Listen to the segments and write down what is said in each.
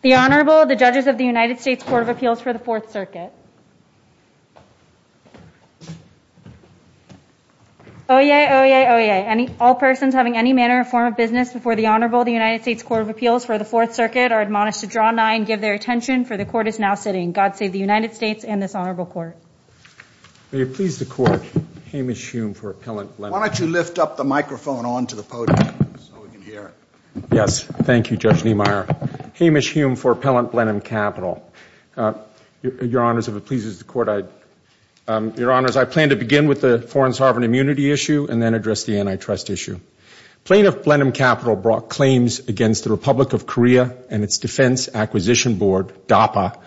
The Honorable, the Judges of the United States Court of Appeals for the Fourth Circuit. Oyez! Oyez! Oyez! All persons having any manner or form of business before the Honorable of the United States Court of Appeals for the Fourth Circuit are admonished to draw nigh and give their attention, for the Court is now sitting. God save the United States and this Honorable Court. May it please the Court, Hamish Hume for Appellant Blenheim Capital. Why don't you lift up the microphone onto the podium so we can hear it. Yes, thank you, Judge Niemeyer. Hamish Hume for Appellant Blenheim Capital. Your Honors, if it pleases the Court, I... Your Honors, I plan to begin with the Foreign Sovereign Immunity Issue and then address the Antitrust Issue. Plaintiff Blenheim Capital brought claims against the Republic of Korea and its Defense Acquisition Board, DAPA,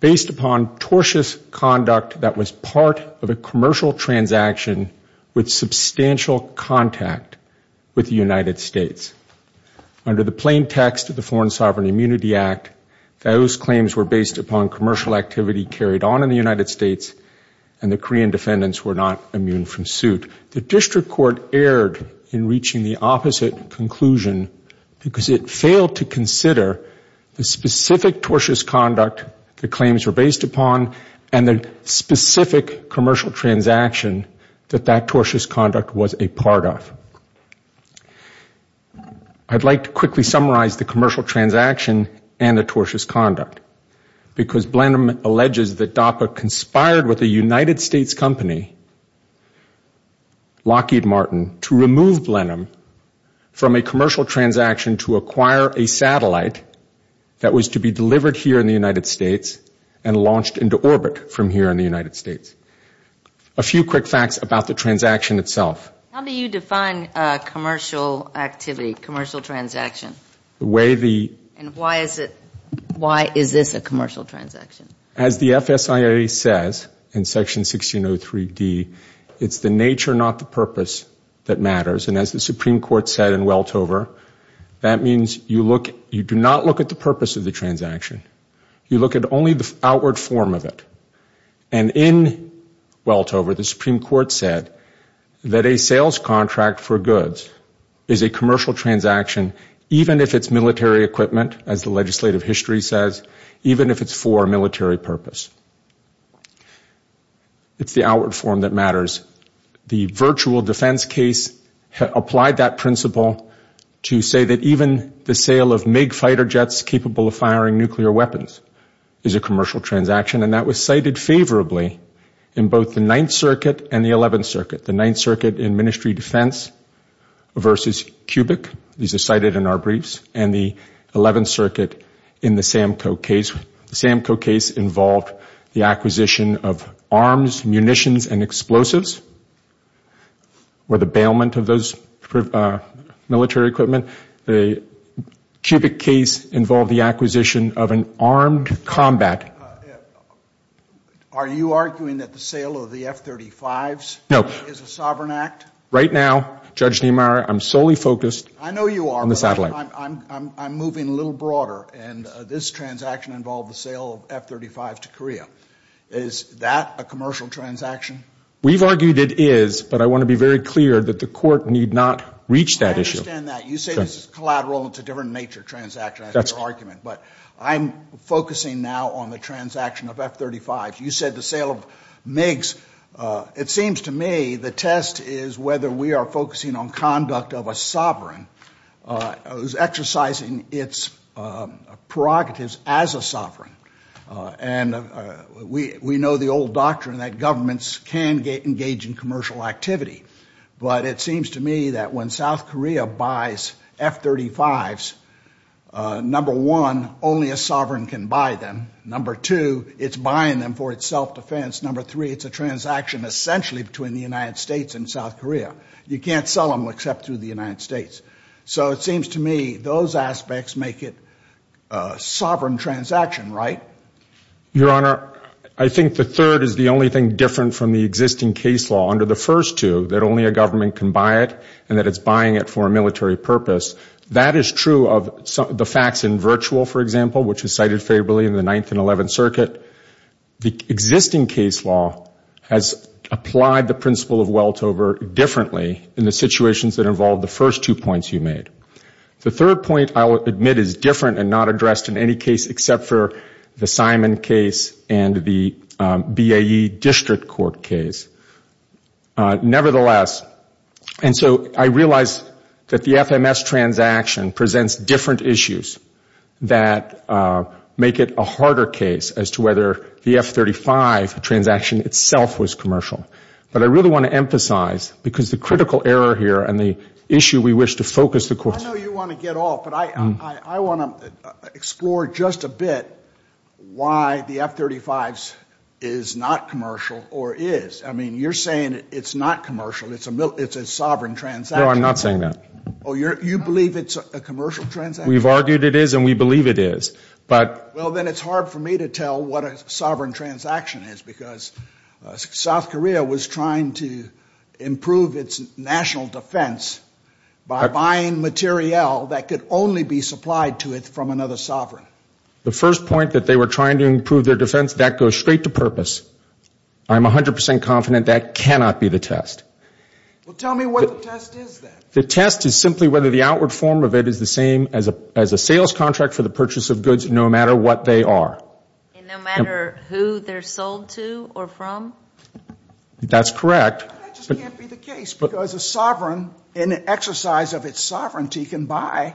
based upon tortious conduct that was part of a commercial transaction with substantial contact with the United States. Under the plain text of the Foreign Sovereign Immunity Act, those claims were based upon commercial activity carried on in the United States and the Korean defendants were not immune from suit. The District Court erred in reaching the opposite conclusion because it failed to consider the specific tortious conduct the claims were based upon and the specific commercial transaction that that tortious conduct was a part of. I'd like to quickly summarize the commercial transaction and the tortious conduct because Blenheim alleges that DAPA conspired with a United States company, Lockheed Martin, to remove Blenheim from a commercial transaction to acquire a satellite that was to be delivered here in the United States and launched into orbit from here in the United States. A few quick facts about the transaction itself. How do you define commercial activity, commercial transaction? Why is it a commercial transaction? As the FSIA says in Section 1603D, it's the nature, not the purpose, that matters. As the Supreme Court said in Weltover, that means you do not look at the purpose of the transaction. You look at only the outward form of it. In Weltover, the Supreme Court said that a sales contract for goods is a commercial transaction even if it's military equipment, as the legislative history says, even if it's for a military purpose. It's the outward form that matters. The virtual defense case applied that principle to say that even the sale of MiG fighter jets capable of firing nuclear weapons is a commercial transaction, and that was cited favorably in both the Ninth Circuit and the Eleventh Circuit. The Ninth Circuit in Ministry Defense versus Cubic, these are cited in our briefs, and the Eleventh Circuit in the SAMCO case. The SAMCO case involved the acquisition of arms, munitions, and explosives, or the bailment of those military equipment. The Cubic case involved the acquisition of an armed combat. Are you arguing that the sale of the F-35s is a sovereign act? Right now, Judge Niemeyer, I'm solely focused on the satellite. I know you are, but I'm moving a little broader, and this transaction involved the sale of F-35s to Korea. Is that a commercial transaction? We've argued it is, but I want to be very clear that the court need not reach that issue. I understand that. You say it's a collateral, and it's a different nature transaction. I'm focusing now on the transaction of F-35s. You said the sale of MiGs. It seems to me the test is whether we are focusing on conduct of a sovereign, exercising its prerogatives as a sovereign. We know the old doctrine that governments can engage in commercial activity, but it seems to me that when South Korea buys F-35s, number one, only a sovereign can buy them. Number two, it's buying them for its self-defense. Number three, it's a transaction essentially between the United States and South Korea. You can't sell them except through the United States. So it seems to me those aspects make it a sovereign transaction, right? Your Honor, I think the third is the only thing different from the existing case law. Under the first two, that only a government can buy it, and that it's buying it for a military purpose. That is true of the facts in Virtual, for example, which is cited favorably in the 9th and 11th Circuit. The existing case law has applied the principle of weltover differently in the situations that involve the first two points you made. The third point, I will admit, is different and not addressed in any case except for the Simon case and the BAE District Court case. Nevertheless, and so I realize that the FMS transaction presents different issues that make it a harder case as to whether the F-35 transaction itself was commercial. But I really want to emphasize, because the critical error here and the issue we wish to focus the question on. I know you want to get off, but I want to explore just a bit why the F-35 is not commercial or is. I mean, you're saying it's not commercial, it's a sovereign transaction. No, I'm not saying that. Oh, you believe it's a commercial transaction? We've argued it is and we believe it is. Well, then it's hard for me to tell what a sovereign transaction is because South Korea was trying to improve its national defense by buying materiel that could only be supplied to it from another sovereign. The first point that they were trying to improve their defense, that goes straight to purpose. I'm 100% confident that cannot be the test. Well, tell me what the test is then. The test is simply whether the outward form of it is the same as a sales contract for the purchase of goods no matter what they are. No matter who they're sold to or from? That's correct. That just can't be the case because an exercise of its sovereignty can buy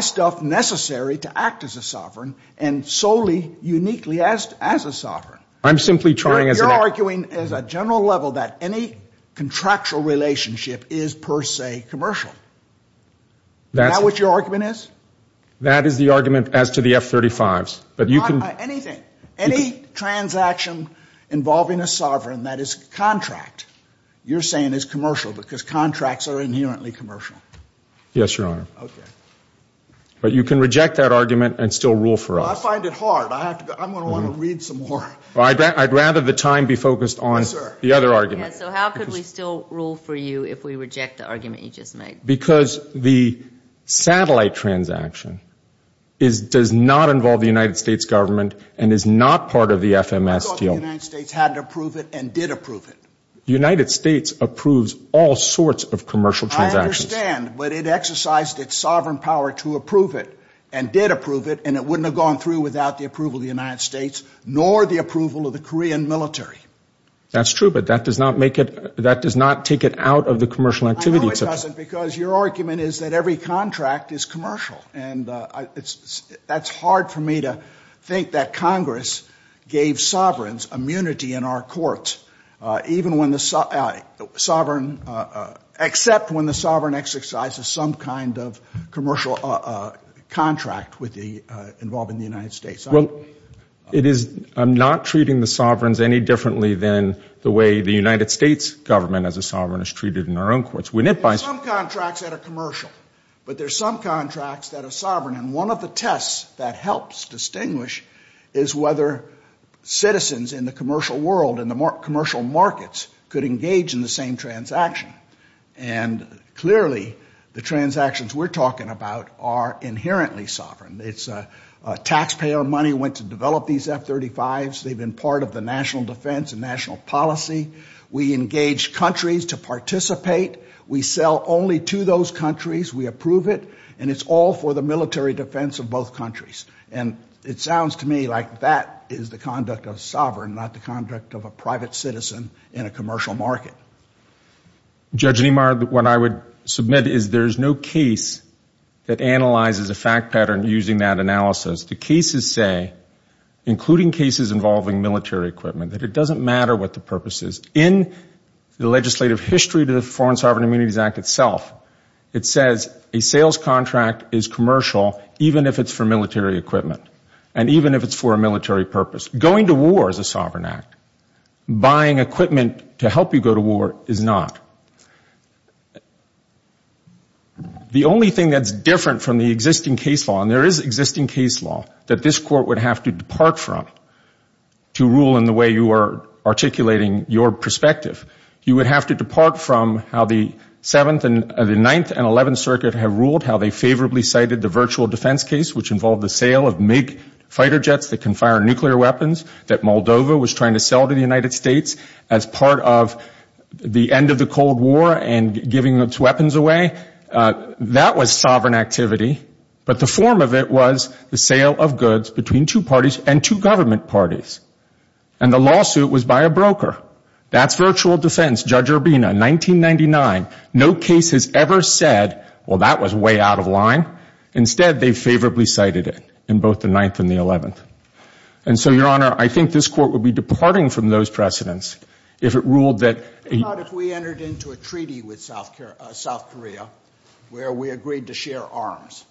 stuff necessary to act as a sovereign and solely uniquely as a sovereign. You're arguing at a general level that any contractual relationship is per se commercial. Is that what your argument is? That is the argument as to the F-35s. Anything, any transaction involving a sovereign that is contract, you're saying is commercial because contracts are inherently commercial. Yes, Your Honor. Okay. But you can reject that argument and still rule for us. I find it hard. I'm going to want to read some more. I'd rather the time be focused on the other argument. So how could we still rule for you if we reject the argument you just made? Because the satellite transaction does not involve the United States government and is not part of the FMS deal. I thought the United States had to approve it and did approve it. The United States approves all sorts of commercial transactions. I understand, but it exercised its sovereign power to approve it and did approve it, and it wouldn't have gone through without the approval of the United States nor the approval of the Korean military. That's true, but that does not take it out of the commercial activity. No, it doesn't, because your argument is that every contract is commercial. That's hard for me to think that Congress gave sovereigns immunity in our courts, except when the sovereign exercises some kind of commercial contract involved in the United States. I'm not treating the sovereigns any differently than the way the United States government as a sovereign is treated in our own courts. There are some contracts that are commercial, but there are some contracts that are sovereign. And one of the tests that helps distinguish is whether citizens in the commercial world and the commercial markets could engage in the same transaction. And clearly, the transactions we're talking about are inherently sovereign. Taxpayer money went to develop these F-35s. They've been part of the national defense and national policy. We engage countries to participate. We sell only to those countries. We approve it. And it's all for the military defense of both countries. And it sounds to me like that is the conduct of sovereign, not the conduct of a private citizen in a commercial market. Judge Niemeyer, what I would submit is there is no case that analyzes a fact pattern using that analysis. The cases say, including cases involving military equipment, that it doesn't matter what the purpose is. In the legislative history to the Foreign Sovereign Immunities Act itself, it says a sales contract is commercial even if it's for military equipment and even if it's for a military purpose. Going to war is a sovereign act. Buying equipment to help you go to war is not. The only thing that's different from the existing case law, and there is existing case law that this court would have to depart from to rule in the way you are articulating your perspective, you would have to depart from how the Seventh and the Ninth and Eleventh Circuit have ruled how they favorably cited the virtual defense case, which involved the sale of fighter jets that can fire nuclear weapons that Moldova was trying to sell to the United States as part of the end of the Cold War and giving its weapons away. That was sovereign activity. But the form of it was the sale of goods between two parties and two government parties. And the lawsuit was by a broker. That's virtual defense. Judge Urbina, 1999. No case has ever said, well, that was way out of line. Instead, they favorably cited it in both the Ninth and the Eleventh. And so, Your Honor, I think this court would be departing from those precedents if it ruled that... What about if we entered into a treaty with South Korea where we agreed to share arms?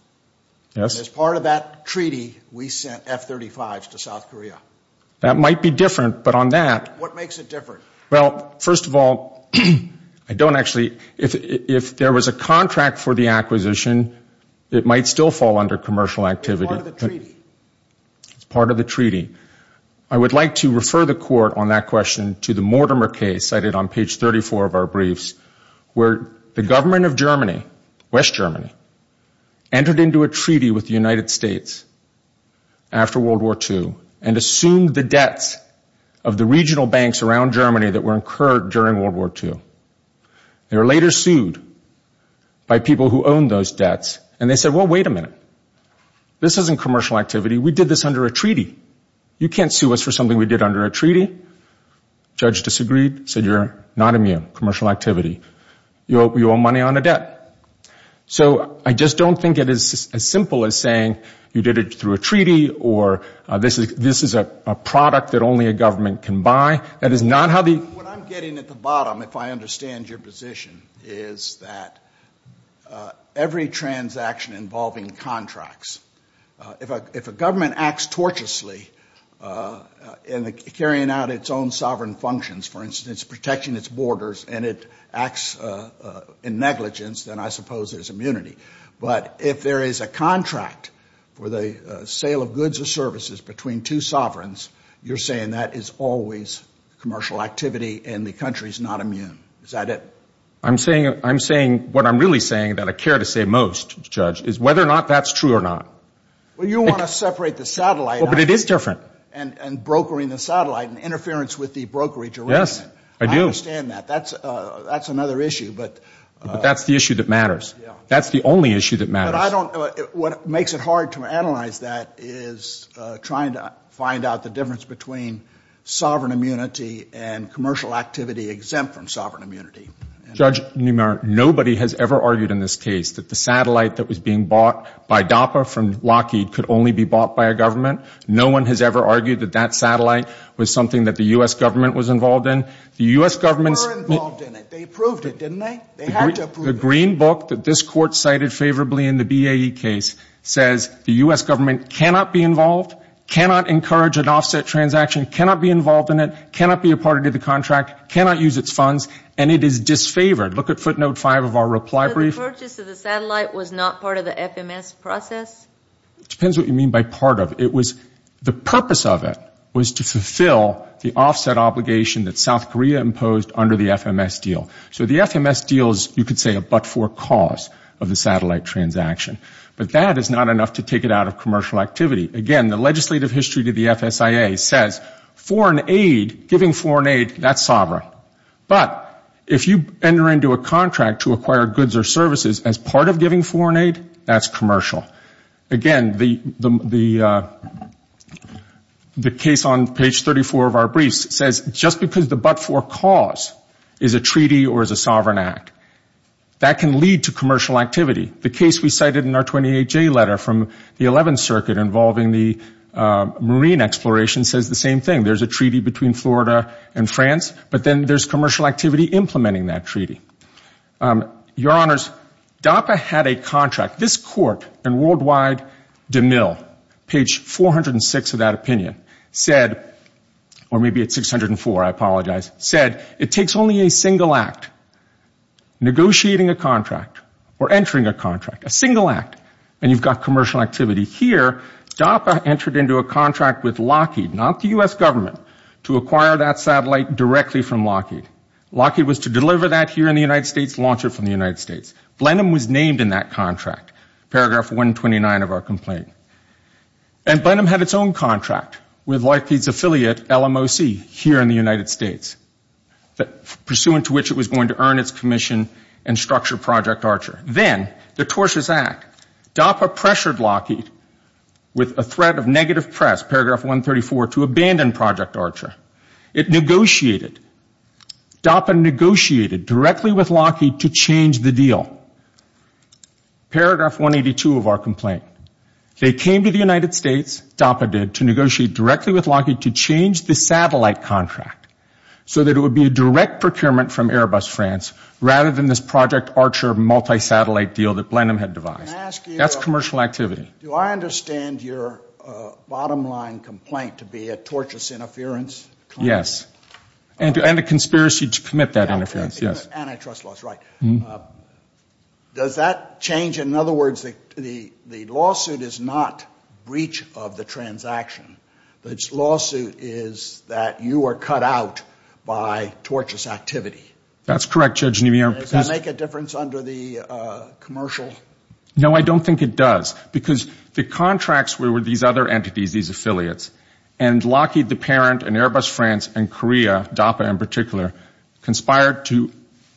Yes. As part of that treaty, we sent F-35s to South Korea. That might be different, but on that... What makes it different? Well, first of all, I don't actually... If there was a contract for the acquisition, it might still fall under commercial activity. As part of the treaty. As part of the treaty. I would like to refer the court on that question to the Mortimer case cited on page 34 of our briefs, where the government of Germany, West Germany, entered into a treaty with the United States after World War II and assumed the debts of the regional banks around Germany that were incurred during World War II. They were later sued by people who owned those debts. And they said, well, wait a minute. This isn't commercial activity. We did this under a treaty. You can't sue us for something we did under a treaty. Judge disagreed, said you're not immune. Commercial activity. You owe money on a debt. So, I just don't think it is as simple as saying you did it through a treaty or this is a product that only a government can buy. That is not how the... What I'm getting at the bottom, if I understand your position, is that every transaction involving contracts. If a government acts torturously in carrying out its own sovereign functions, for instance, protecting its borders and it acts in negligence, then I suppose there's immunity. But if there is a contract for the sale of goods or services between two sovereigns, you're saying that is always commercial activity and the country's not immune. Is that it? What I'm really saying that I care to say most, Judge, is whether or not that's true or not. Well, you want to separate the satellite. But it is different. And brokering the satellite and interference with the brokerage arrangement. Yes, I do. I understand that. That's another issue. But that's the issue that matters. That's the only issue that matters. What makes it hard to analyze that is trying to find out the difference between sovereign immunity and commercial activity exempt from sovereign immunity. Judge, nobody has ever argued in this case that the satellite that was being bought by DAPA from Lockheed could only be bought by a government. No one has ever argued that that satellite was something that the U.S. government was involved in. They were involved in it. They approved it, didn't they? The Green Book that this court cited favorably in the BAE case says the U.S. government cannot be involved, cannot encourage an offset transaction, cannot be involved in it, cannot be a part of the contract, cannot use its funds. And it is disfavored. Look at footnote 5 of our reply brief. So the purchase of the satellite was not part of the FMS process? It depends what you mean by part of it. The purpose of it was to fulfill the offset obligation that South Korea imposed under the FMS deal. So the FMS deal is, you could say, a but-for cause of the satellite transaction. But that is not enough to take it out of commercial activity. Again, the legislative history to the FSIA says foreign aid, giving foreign aid, that's sovereign. But if you enter into a contract to acquire goods or services as part of giving foreign aid, that's commercial. Again, the case on page 34 of our brief says just because the but-for cause is a treaty or is a sovereign act, that can lead to commercial activity. The case we cited in our 28-J letter from the 11th Circuit involving the marine exploration says the same thing. There's a treaty between Florida and France, but then there's commercial activity implementing that treaty. Your Honors, DAPA had a contract. This court in worldwide DeMille, page 406 of that opinion, said, or maybe it's 604, I apologize, said, it takes only a single act, negotiating a contract or entering a contract, a single act, and you've got commercial activity. Here, DAPA entered into a contract with Lockheed, not the U.S. government, to acquire that satellite directly from Lockheed. Lockheed was to deliver that here in the United States, launch it from the United States. Blenheim was named in that contract, paragraph 129 of our complaint. And Blenheim had its own contract with Lockheed's affiliate, LMOC, here in the United States, pursuant to which it was going to earn its commission and structure Project Archer. Then, the tortious act. DAPA pressured Lockheed with a threat of negative press, paragraph 134, to abandon Project Archer. It negotiated. DAPA negotiated directly with Lockheed to change the deal. Paragraph 182 of our complaint. They came to the United States, DAPA did, to negotiate directly with Lockheed to change the satellite contract so that it would be a direct procurement from Airbus France, rather than this Project Archer multi-satellite deal that Blenheim had devised. That's commercial activity. Do I understand your bottom line complaint to be a tortious interference? Yes. And a conspiracy to commit that interference, yes. Antitrust laws, right. Does that change, in other words, the lawsuit is not breach of the transaction, but its lawsuit is that you are cut out by tortious activity? That's correct, Judge. Does that make a difference under the commercial? No, I don't think it does. Because the contracts were with these other entities, these affiliates, and Lockheed, the parent, and Airbus France, and Korea, DAPA in particular, conspired to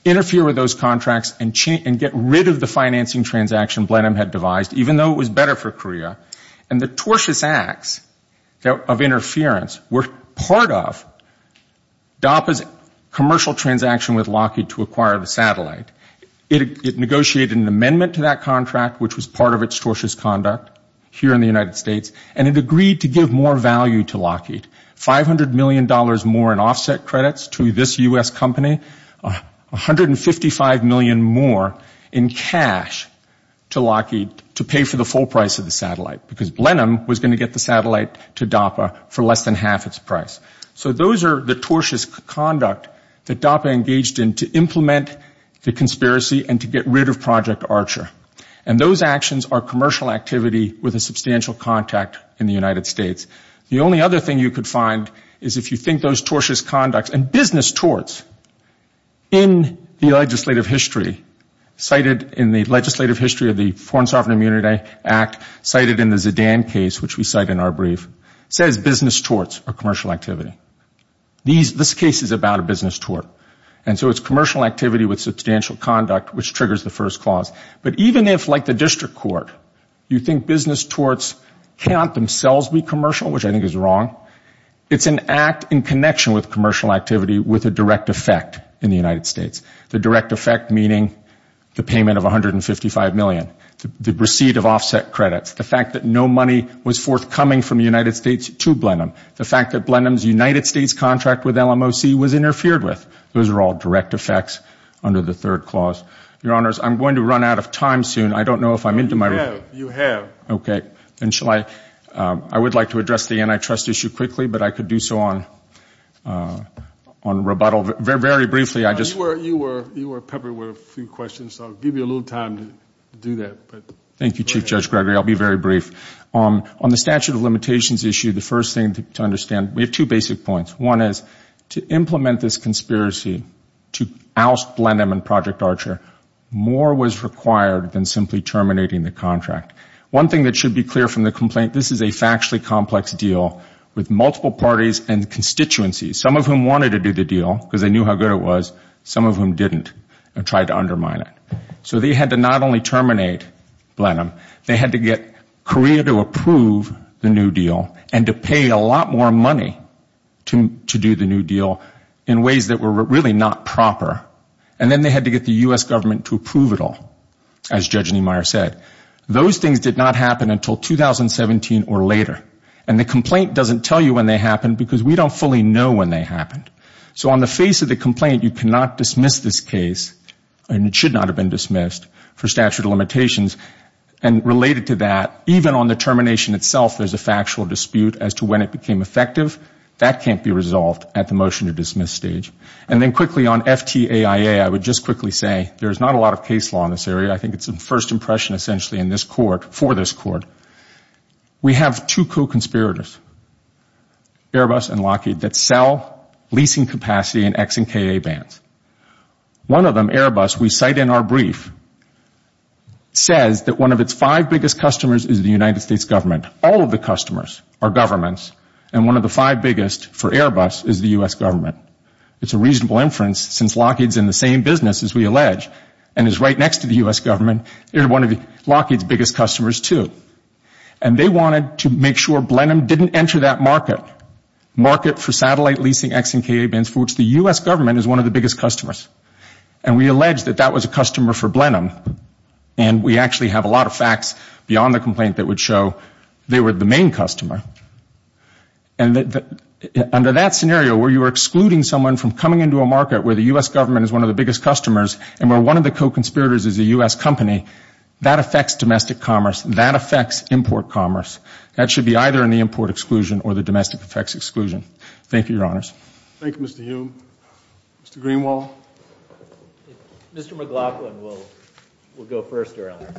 interfere with those contracts and get rid of the financing transaction Blenheim had devised, even though it was better for Korea. And the tortious acts of interference were part of DAPA's commercial transaction with Lockheed to acquire the satellite. It negotiated an amendment to that contract, which was part of its tortious conduct, here in the United States, and it agreed to give more value to Lockheed, $500 million more in offset credits to this U.S. company, $155 million more in cash to Lockheed to pay for the full price of the satellite, because Blenheim was going to get the satellite to DAPA for less than half its price. So those are the tortious conduct that DAPA engaged in to implement the conspiracy and to get rid of Project Archer. And those actions are commercial activity with a substantial contact in the United States. The only other thing you could find is if you think those tortious conducts, and business torts in the legislative history, cited in the legislative history of the Foreign Sovereign Immunity Act, cited in the Zidane case, which we cite in our brief, says business torts are commercial activity. This case is about a business tort. And so it's commercial activity with substantial conduct, which triggers the first clause. But even if, like the district court, you think business torts cannot themselves be commercial, which I think is wrong, it's an act in connection with commercial activity with a direct effect in the United States. The direct effect meaning the payment of $155 million, the receipt of offset credits, the fact that no money was forthcoming from the United States to Blenheim, the fact that Blenheim's United States contract with LMOC was interfered with. Those are all direct effects under the third clause. Your Honors, I'm going to run out of time soon. I don't know if I'm into my— You have. You have. Okay. Then shall I—I would like to address the antitrust issue quickly, but I could do so on rebuttal. Very briefly, I just— You were peppered with a few questions, so I'll give you a little time to do that. Thank you, Chief Judge Gregory. I'll be very brief. On the statute of limitations issue, the first thing to understand—we have two basic points. One is to implement this conspiracy to oust Blenheim and Project Archer, more was required than simply terminating the contract. One thing that should be clear from the complaint, this is a factually complex deal with multiple parties and constituencies, some of whom wanted to do the deal because they knew how good it was, some of whom didn't and tried to undermine it. So they had to not only terminate Blenheim, they had to get Korea to approve the new deal and to pay a lot more money to do the new deal in ways that were really not proper. And then they had to get the U.S. government to approve it all, as Judge Niemeyer said. Those things did not happen until 2017 or later. And the complaint doesn't tell you when they happened because we don't fully know when they happened. So on the face of the complaint, you cannot dismiss this case, and it should not have been dismissed, for statute of limitations. And related to that, even on the termination itself, there's a factual dispute as to when it became effective. That can't be resolved at the motion-to-dismiss stage. And then quickly on FTAIA, I would just quickly say, there's not a lot of case law in this area. I think it's a first impression, essentially, in this court, for this court. We have two co-conspirators, Airbus and Lockheed, that sell leasing capacity and Ex-ImkA vans. One of them, Airbus, we cite in our brief, says that one of its five biggest customers is the United States government. All of the customers are governments, and one of the five biggest for Airbus is the U.S. government. It's a reasonable inference, since Lockheed's in the same business, as we allege, and is right next to the U.S. government, they're one of Lockheed's biggest customers, too. And they wanted to make sure Blenheim didn't enter that market, market for satellite leasing Ex-ImkA vans, which the U.S. government is one of the biggest customers. And we allege that that was a customer for Blenheim. And we actually have a lot of facts beyond the complaint that would show they were the main customer. And under that scenario, where you are excluding someone from coming into a market where the U.S. government is one of the biggest customers and where one of the co-conspirators is a U.S. company, that affects domestic commerce, that affects import commerce. That should be either in the import exclusion or the domestic effects exclusion. Thank you, Your Honors. Thank you, Mr. Hume. Mr. Greenwald? Mr. McLaughlin will go first, Your Honor.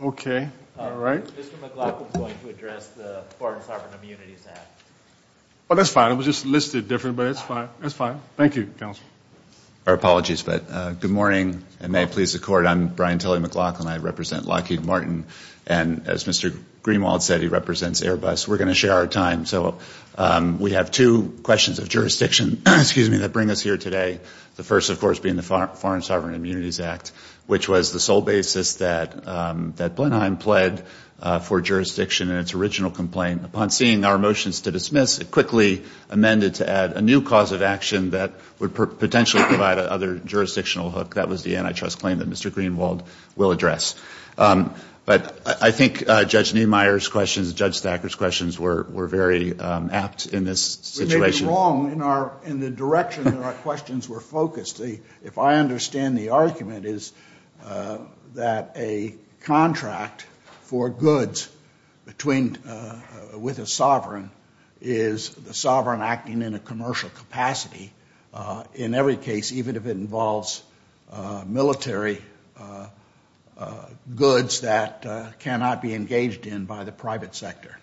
Okay. All right. Mr. McLaughlin's going to address the foreign carbon immunity tax. Oh, that's fine. It was just listed different, but it's fine. It's fine. Thank you, Counsel. Our apologies, but good morning, and may it please the Court. I'm Brian Tully McLaughlin. I represent Lockheed Martin. And as Mr. Greenwald said, he represents Airbus. We're going to share our time. So we have two questions of jurisdiction that bring us here today, the first, of course, being the Foreign Sovereign Immunities Act, which was the sole basis that Blenheim pled for jurisdiction in its original complaint. Upon seeing our motions to dismiss, it quickly amended to add a new cause of action that would potentially provide another jurisdictional hook. That was the antitrust claim that Mr. Greenwald will address. But I think Judge Neumeier's questions, Judge Thacker's questions were very apt in this situation. You're getting it wrong in the direction in which our questions were focused. If I understand the argument, it is that a contract for goods with a sovereign is the sovereign acting in a commercial capacity. In every case, even if it involves military goods that cannot be engaged in by the private sector.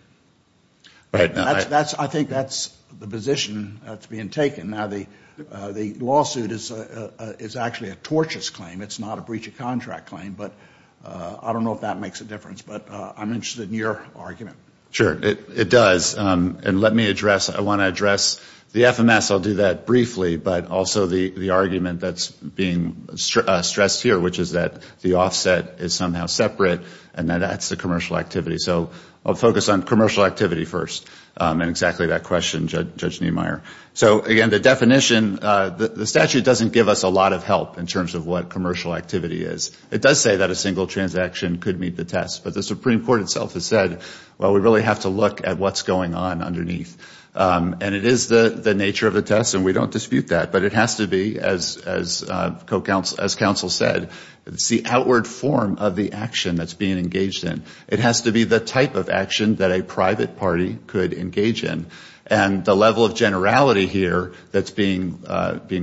I think that's the position that's being taken. Now, the lawsuit is actually a tortious claim. It's not a breach of contract claim, but I don't know if that makes a difference. But I'm interested in your argument. Sure, it does. I want to address the FMS. I'll do that briefly, but also the argument that's being stressed here, which is that the offset is somehow separate and that that's the commercial activity. I'll focus on commercial activity first and exactly that question, Judge Neumeier. Again, the definition, the statute doesn't give us a lot of help in terms of what commercial activity is. It does say that a single transaction could meet the test, but the Supreme Court itself has said, well, we really have to look at what's going on underneath. And it is the nature of the test, and we don't dispute that. But it has to be, as counsel said, the outward form of the action that's being engaged in. It has to be the type of action that a private party could engage in. And the level of generality here that's being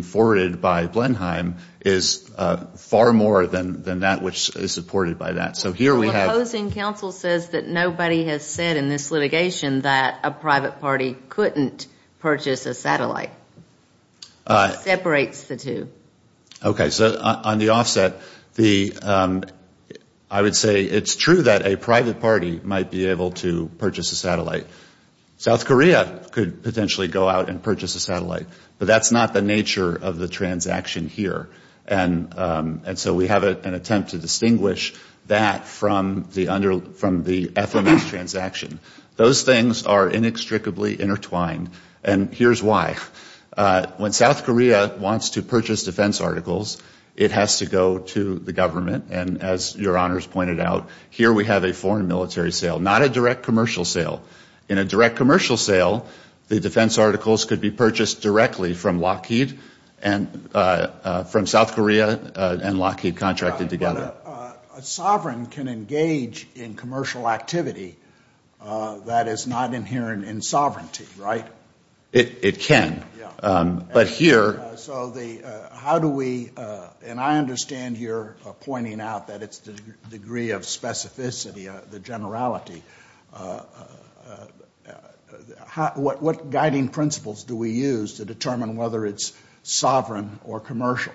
forwarded by Blenheim is far more than that which is supported by that. Opposing counsel says that nobody has said in this litigation that a private party couldn't purchase a satellite. It separates the two. Okay. So on the offset, I would say it's true that a private party might be able to purchase a satellite. South Korea could potentially go out and purchase a satellite, but that's not the nature of the transaction here. And so we have an attempt to distinguish that from the FMS transaction. Those things are inextricably intertwined, and here's why. When South Korea wants to purchase defense articles, it has to go to the government. And as your honors pointed out, here we have a foreign military sale, not a direct commercial sale. In a direct commercial sale, the defense articles could be purchased directly from Lockheed, from South Korea and Lockheed contracted together. A sovereign can engage in commercial activity that is not inherent in sovereignty, right? It can. So how do we – and I understand you're pointing out that it's the degree of specificity, the generality. What guiding principles do we use to determine whether it's sovereign or commercial?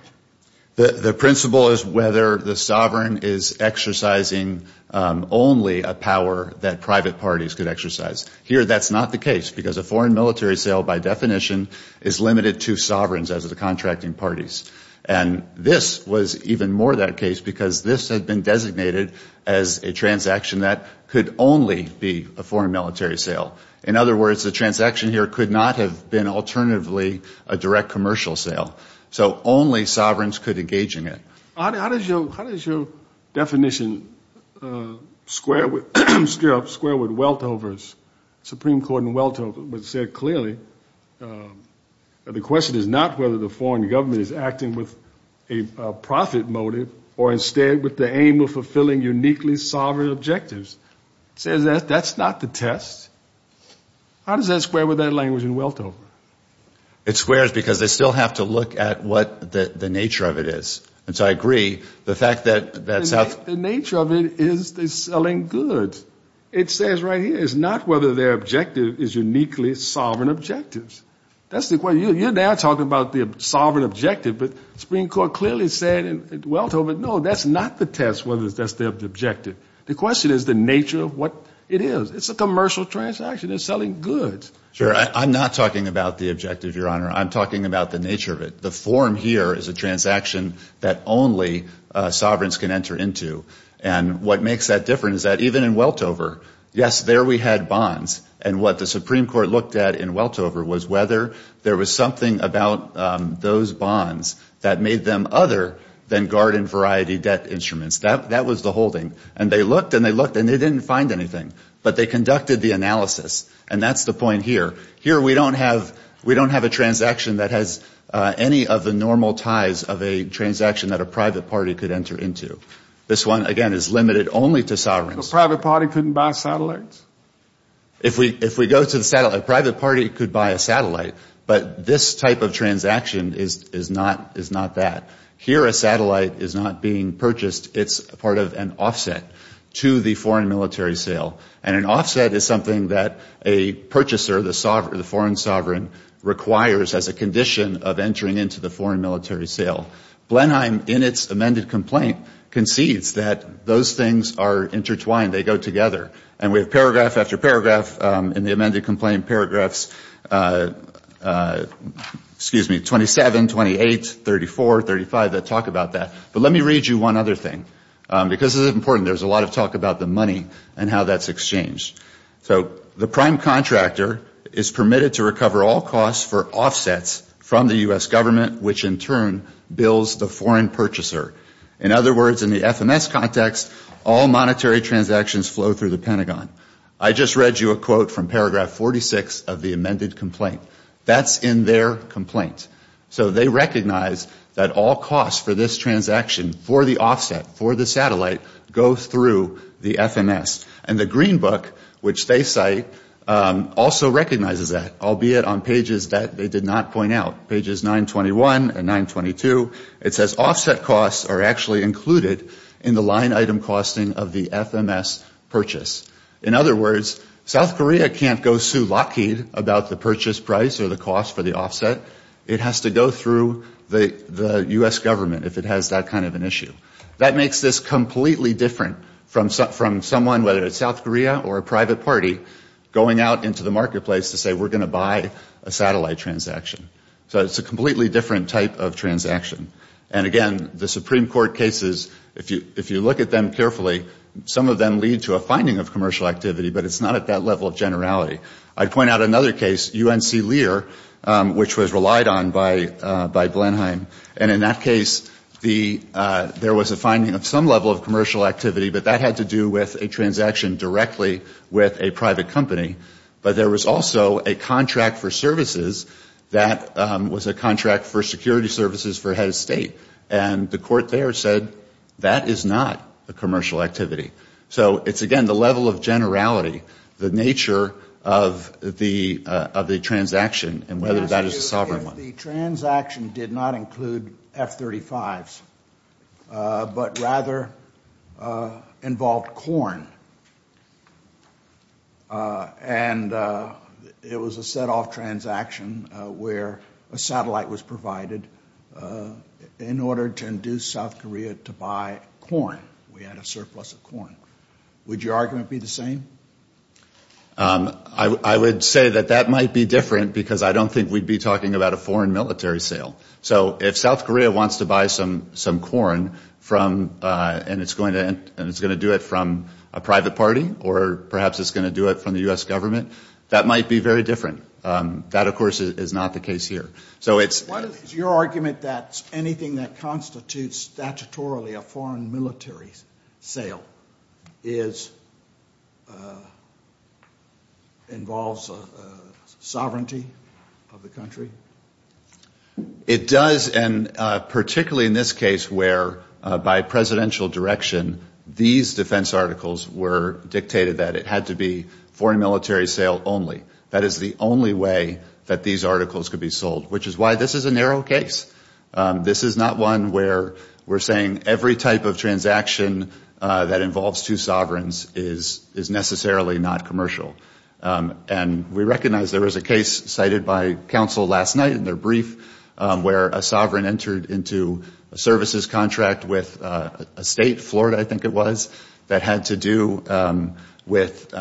The principle is whether the sovereign is exercising only a power that private parties could exercise. Here that's not the case because a foreign military sale by definition is limited to sovereigns as the contracting parties. And this was even more that case because this had been designated as a transaction that could only be a foreign military sale. In other words, the transaction here could not have been alternatively a direct commercial sale. So only sovereigns could engage in it. How does your definition square with Weltover's, Supreme Court in Weltover, which said clearly that the question is not whether the foreign government is acting with a profit motive or instead with the aim of fulfilling uniquely sovereign objectives. It says that that's not the test. How does that square with that language in Weltover? It squares because they still have to look at what the nature of it is. And so I agree, the fact that – The nature of it is the selling goods. It says right here, it's not whether their objective is uniquely sovereign objectives. That's the question. You're now talking about the sovereign objective, but Supreme Court clearly said in Weltover, no, that's not the test whether that's the objective. The question is the nature of what it is. It's a commercial transaction. It's selling goods. Sure. I'm not talking about the objective, Your Honor. I'm talking about the nature of it. The form here is a transaction that only sovereigns can enter into. And what makes that different is that even in Weltover, yes, there we had bonds. And what the Supreme Court looked at in Weltover was whether there was something about those bonds that made them other than garden variety debt instruments. That was the holding. And they looked and they looked and they didn't find anything. But they conducted the analysis. And that's the point here. Here we don't have a transaction that has any of the normal ties of a transaction that a private party could enter into. This one, again, is limited only to sovereigns. A private party couldn't buy a satellite? If we go to the satellite, a private party could buy a satellite. But this type of transaction is not that. Here a satellite is not being purchased. It's part of an offset to the foreign military sale. And an offset is something that a purchaser, the foreign sovereign, requires as a condition of entering into the foreign military sale. Blenheim, in its amended complaint, concedes that those things are intertwined. They go together. And we have paragraph after paragraph in the amended complaint, paragraphs 27, 28, 34, 35 that talk about that. But let me read you one other thing. Because this is important, there's a lot of talk about the money and how that's exchanged. So the prime contractor is permitted to recover all costs for offsets from the U.S. government, which in turn bills the foreign purchaser. In other words, in the FMS context, all monetary transactions flow through the Pentagon. I just read you a quote from paragraph 46 of the amended complaint. That's in their complaint. So they recognize that all costs for this transaction for the offset, for the satellite, go through the FMS. And the Green Book, which they cite, also recognizes that, albeit on pages that they did not point out, pages 921 and 922. It says offset costs are actually included in the line item costing of the FMS purchase. In other words, South Korea can't go sue Lockheed about the purchase price or the cost for the offset. It has to go through the U.S. government if it has that kind of an issue. That makes this completely different from someone, whether it's South Korea or a private party, going out into the marketplace to say we're going to buy a satellite transaction. So it's a completely different type of transaction. And again, the Supreme Court cases, if you look at them carefully, some of them lead to a finding of commercial activity, but it's not at that level of generality. I'd point out another case, UNC Lear, which was relied on by Blenheim. And in that case, there was a finding of some level of commercial activity, but that had to do with a transaction directly with a private company. But there was also a contract for services that was a contract for security services for head of state. And the court there said that is not a commercial activity. So it's, again, the level of generality, the nature of the transaction, and whether that is a sovereign one. The transaction did not include F-35s, but rather involved corn. And it was a set-off transaction where a satellite was provided in order to induce South Korea to buy corn. We had a surplus of corn. Would your argument be the same? I would say that that might be different because I don't think we'd be talking about a foreign military sale. So if South Korea wants to buy some corn and it's going to do it from a private party, or perhaps it's going to do it from the U.S. government, that might be very different. That, of course, is not the case here. Is your argument that anything that constitutes statutorily a foreign military sale involves sovereignty of the country? It does, and particularly in this case where, by presidential direction, these defense articles were dictated that it had to be foreign military sale only. That is the only way that these articles could be sold, which is why this is a narrow case. This is not one where we're saying every type of transaction that involves two sovereigns is necessarily not commercial. We recognize there was a case cited by counsel last night in their brief where a sovereign entered into a services contract with a state, Florida, I think it was, that had to do with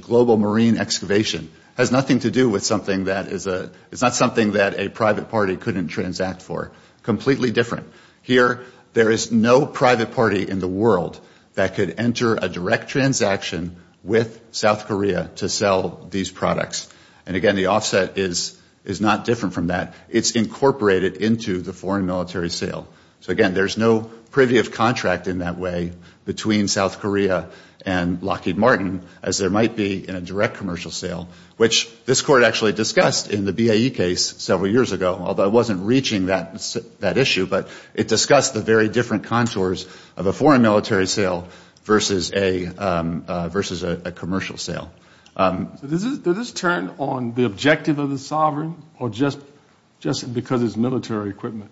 global marine excavation. It has nothing to do with something that is a – it's not something that a private party couldn't transact for. Completely different. Here, there is no private party in the world that could enter a direct transaction with South Korea to sell these products. Again, the offset is not different from that. It's incorporated into the foreign military sale. Again, there's no privy of contract in that way between South Korea and Lockheed Martin, as there might be in a direct commercial sale, which this court actually discussed in the BAE case several years ago, although it wasn't reaching that issue. But it discussed the very different contours of a foreign military sale versus a commercial sale. Did this turn on the objective of the sovereign or just because it's military equipment?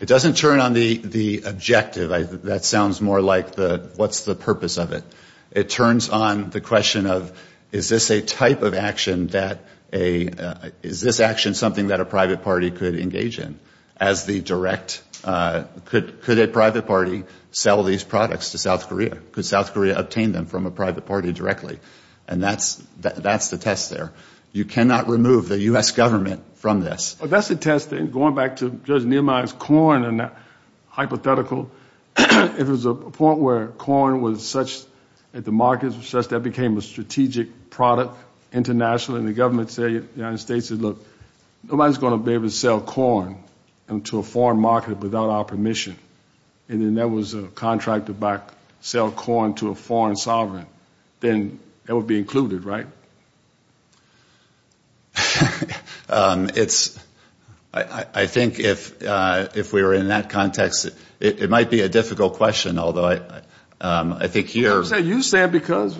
It doesn't turn on the objective. That sounds more like what's the purpose of it. It turns on the question of, is this a type of action that a – is this action something that a private party could engage in as the direct – could a private party sell these products to South Korea? Could South Korea obtain them from a private party directly? And that's the test there. You cannot remove the U.S. government from this. Well, that's the test. And going back to Judge Neumann's corn and that hypothetical, it was a point where corn was such that the markets were such that it became a strategic product internationally. And the government said, the United States said, look, nobody's going to be able to sell corn into a foreign market without our permission. And then there was a contract to buy – sell corn to a foreign sovereign. Then that would be included, right? It's – I think if we were in that context, it might be a difficult question, although I think here – You said because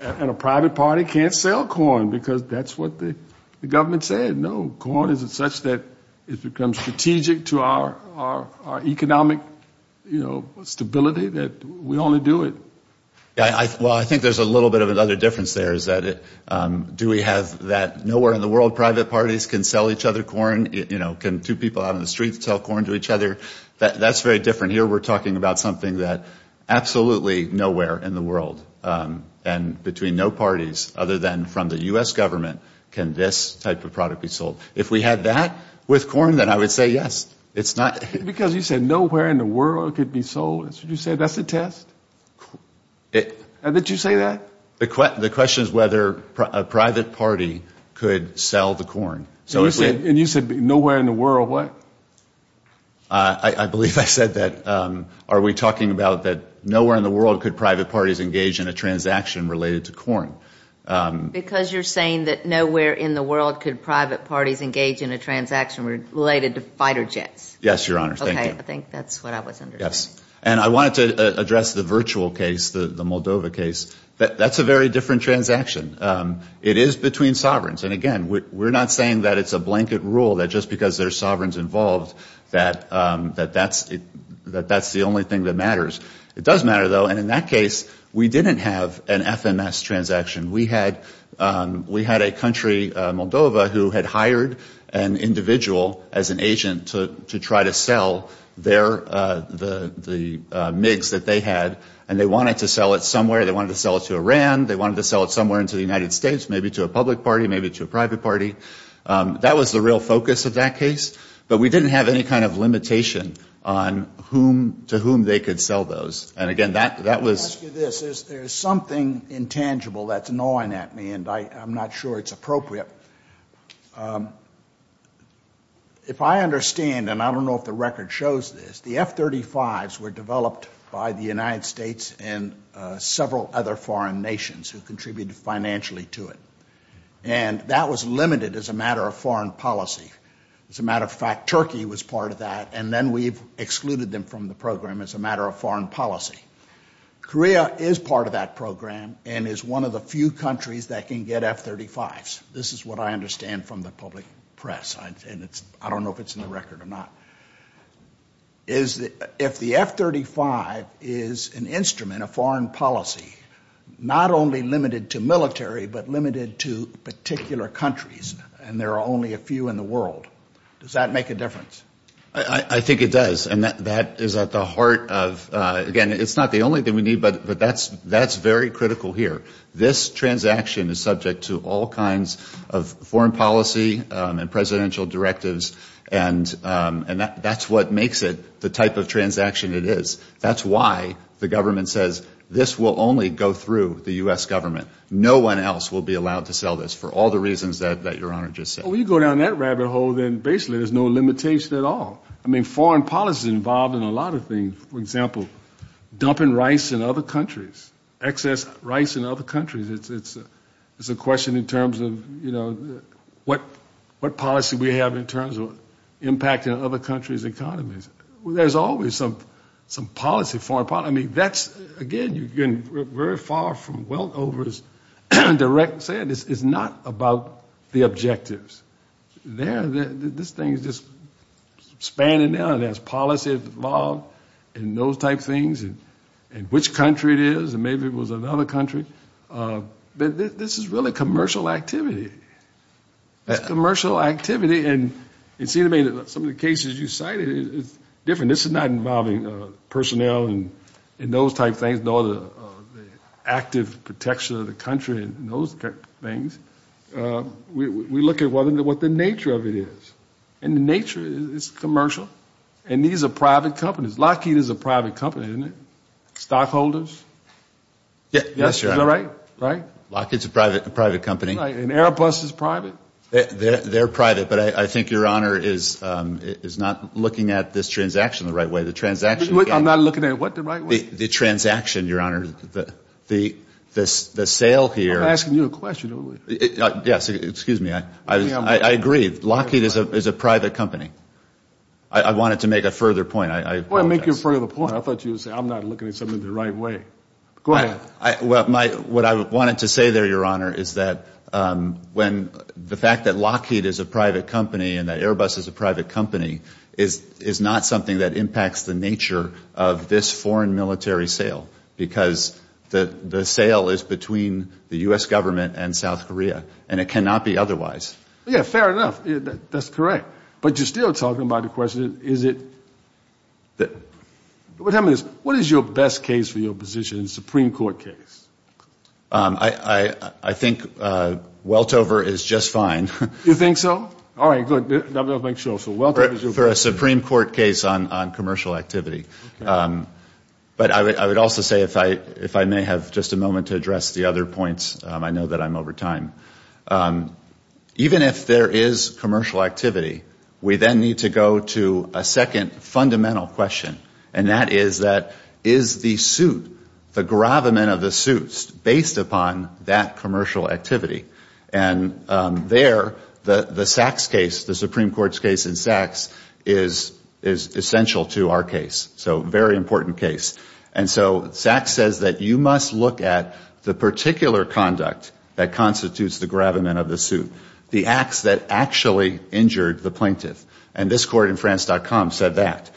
a private party can't sell corn because that's what the government said. No, corn is such that it becomes strategic to our economic, you know, stability that we only do it. Well, I think there's a little bit of another difference there is that do we have that nowhere in the world private parties can sell each other corn? You know, can two people out on the street sell corn to each other? That's very different. Here we're talking about something that absolutely nowhere in the world and between no parties other than from the U.S. government can this type of product be sold. If we had that with corn, then I would say yes. It's not – Because you said nowhere in the world it could be sold. You said that's a test? Did you say that? The question is whether a private party could sell the corn. And you said nowhere in the world what? I believe I said that. Are we talking about that nowhere in the world could private parties engage in a transaction related to corn? Because you're saying that nowhere in the world could private parties engage in a transaction related to fighter jets. Yes, Your Honor. Thank you. Okay, I think that's what I was understanding. Yes. And I wanted to address the virtual case, the Moldova case. That's a very different transaction. It is between sovereigns. And again, we're not saying that it's a blanket rule that just because there's sovereigns involved that that's the only thing that matters. It does matter, though. And in that case, we didn't have an FMS transaction. We had a country, Moldova, who had hired an individual as an agent to try to sell the MIGs that they had, and they wanted to sell it somewhere. They wanted to sell it to Iran. They wanted to sell it somewhere into the United States, maybe to a public party, maybe to a private party. That was the real focus of that case. But we didn't have any kind of limitation on to whom they could sell those. Let me ask you this. There's something intangible that's gnawing at me, and I'm not sure it's appropriate. If I understand, and I don't know if the record shows this, the F-35s were developed by the United States and several other foreign nations who contributed financially to it. And that was limited as a matter of foreign policy. As a matter of fact, Turkey was part of that, and then we excluded them from the program as a matter of foreign policy. Korea is part of that program and is one of the few countries that can get F-35s. This is what I understand from the public press, and I don't know if it's in the record or not. If the F-35 is an instrument of foreign policy, not only limited to military, but limited to particular countries, and there are only a few in the world, does that make a difference? I think it does, and that is at the heart of – again, it's not the only thing we need, but that's very critical here. This transaction is subject to all kinds of foreign policy and presidential directives, and that's what makes it the type of transaction it is. That's why the government says this will only go through the U.S. government. No one else will be allowed to sell this for all the reasons that Your Honor just said. Well, when you go down that rabbit hole, then basically there's no limitation at all. I mean, foreign policy is involved in a lot of things. For example, dumping rice in other countries, excess rice in other countries. It's a question in terms of, you know, what policy we have in terms of impacting other countries' economies. There's always some policy, foreign policy. I mean, that's – again, you're getting very far from Weldover's direct – it's not about the objectives. This thing is just spanning out. It has policy involved and those type things, and which country it is, and maybe it was another country. This is really commercial activity. Commercial activity, and it seems to me that some of the cases you cited, it's different. This is not involving personnel and those type things, nor the active protection of the country and those type things. We look at what the nature of it is, and the nature is commercial, and these are private companies. Lockheed is a private company, isn't it? Stockholders? Yes, Your Honor. Is that right? Right? Lockheed's a private company. Right, and Airbus is private. They're private, but I think Your Honor is not looking at this transaction the right way. The transaction – I'm not looking at what the right way? The transaction, Your Honor. The sale here – Yes, excuse me. I agree. Lockheed is a private company. I wanted to make a further point. Well, make your further point. I thought you were going to say, I'm not looking at something the right way. Go ahead. What I wanted to say there, Your Honor, is that the fact that Lockheed is a private company and that Airbus is a private company is not something that impacts the nature of this foreign military sale because the sale is between the U.S. government and South Korea, and it cannot be otherwise. Yes, fair enough. That's correct. But you're still talking about the question, is it – What I mean is, what is your best case for your position in a Supreme Court case? I think Weltover is just fine. You think so? All right, good. I'm going to have to make sure. For a Supreme Court case on commercial activity. But I would also say, if I may have just a moment to address the other points, I know that I'm over time. Even if there is commercial activity, we then need to go to a second fundamental question, and that is, is the suit, the gravamen of the suit, based upon that commercial activity? And there, the Sachs case, the Supreme Court's case in Sachs, is essential to our case, so very important case. And so Sachs says that you must look at the particular conduct that constitutes the gravamen of the suit, the acts that actually injured the plaintiff. And this court in France.com said that.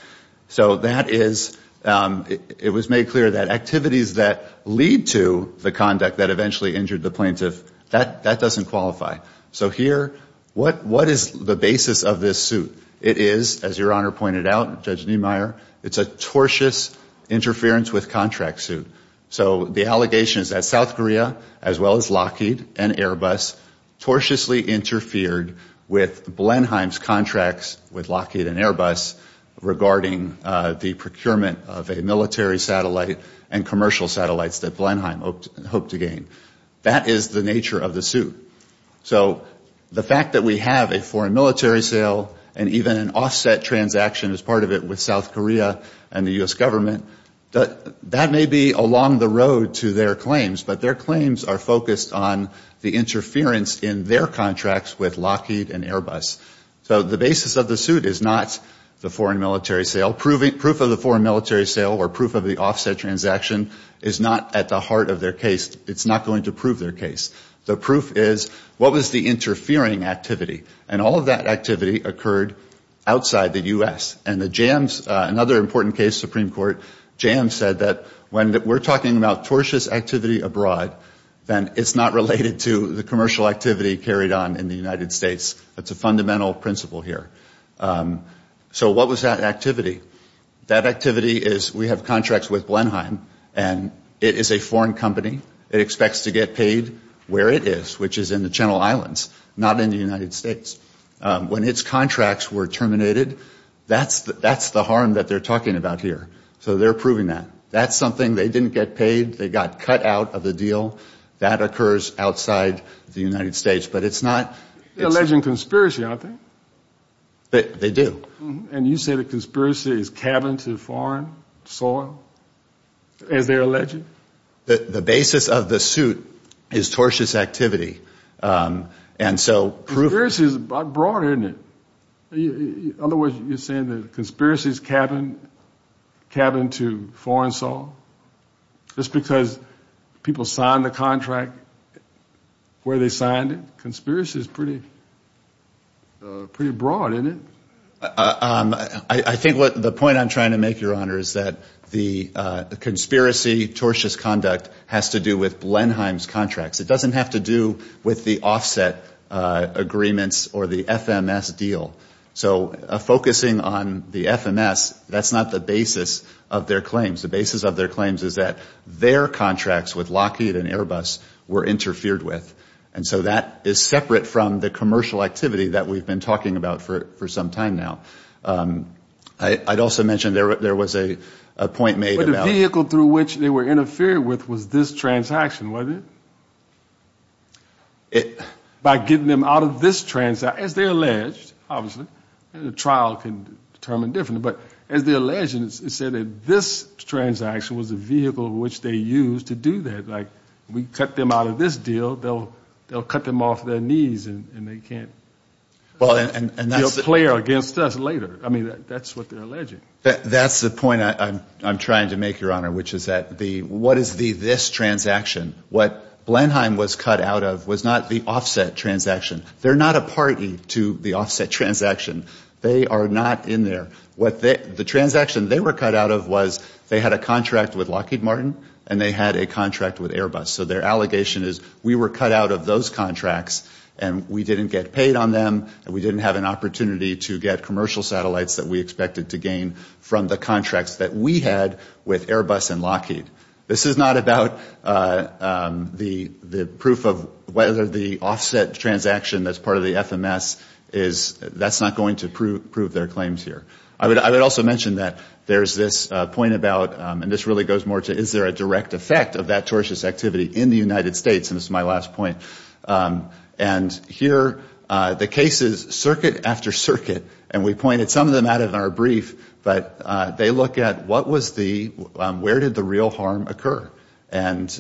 So that is – it was made clear that activities that lead to the conduct that eventually injured the plaintiff, that doesn't qualify. So here, what is the basis of this suit? It is, as Your Honor pointed out, Judge Niemeyer, it's a tortious interference with contract suit. So the allegation is that South Korea, as well as Lockheed and Airbus, tortiously interfered with Blenheim's contracts with Lockheed and Airbus regarding the procurement of a military satellite and commercial satellites that Blenheim hoped to gain. That is the nature of the suit. So the fact that we have a foreign military sale and even an offset transaction as part of it with South Korea and the U.S. government, that may be along the road to their claims, but their claims are focused on the interference in their contracts with Lockheed and Airbus. So the basis of the suit is not the foreign military sale. Proof of the foreign military sale or proof of the offset transaction is not at the heart of their case. It's not going to prove their case. The proof is, what was the interfering activity? And all of that activity occurred outside the U.S. And the Jams, another important case, Supreme Court, Jams said that when we're talking about tortious activity abroad, then it's not related to the commercial activity carried on in the United States. That's a fundamental principle here. So what was that activity? That activity is we have contracts with Blenheim, and it is a foreign company. It expects to get paid where it is, which is in the Channel Islands, not in the United States. When its contracts were terminated, that's the harm that they're talking about here. So they're proving that. That's something they didn't get paid. They got cut out of the deal. That occurs outside the United States, but it's not— They're alleging conspiracy out there. They do. And you say the conspiracy is cabin to foreign soil, as they're alleging? The basis of the suit is tortious activity. And so— Conspiracy is broad, isn't it? In other words, you're saying the conspiracy is cabin to foreign soil? Just because people signed the contract where they signed it? Conspiracy is pretty broad, isn't it? I think the point I'm trying to make, Your Honor, is that the conspiracy, tortious conduct, has to do with Blenheim's contracts. It doesn't have to do with the offset agreements or the FMS deal. So focusing on the FMS, that's not the basis of their claims. The basis of their claims is that their contracts with Lockheed and Airbus were interfered with. And so that is separate from the commercial activity that we've been talking about for some time now. I'd also mention there was a point made about— But the vehicle through which they were interfered with was this transaction, wasn't it? By getting them out of this transaction. As they allege, obviously, the trial can determine differently, but as they allege, it said that this transaction was the vehicle which they used to do that. Like, we cut them out of this deal, they'll cut them off their knees and they can't— Well, and that's clear against us later. I mean, that's what they're alleging. That's the point I'm trying to make, Your Honor, which is that what is the this transaction? What Blenheim was cut out of was not the offset transaction. They're not a party to the offset transaction. They are not in there. The transaction they were cut out of was they had a contract with Lockheed Martin and they had a contract with Airbus. So their allegation is we were cut out of those contracts and we didn't get paid on them and we didn't have an opportunity to get commercial satellites that we expected to gain from the contract that we had with Airbus and Lockheed. This is not about the proof of whether the offset transaction that's part of the FMS is— I would also mention that there's this point about, and this really goes more to, is there a direct effect of that tortious activity in the United States? And this is my last point. And here the case is circuit after circuit, and we pointed some of them out in our brief, but they look at where did the real harm occur and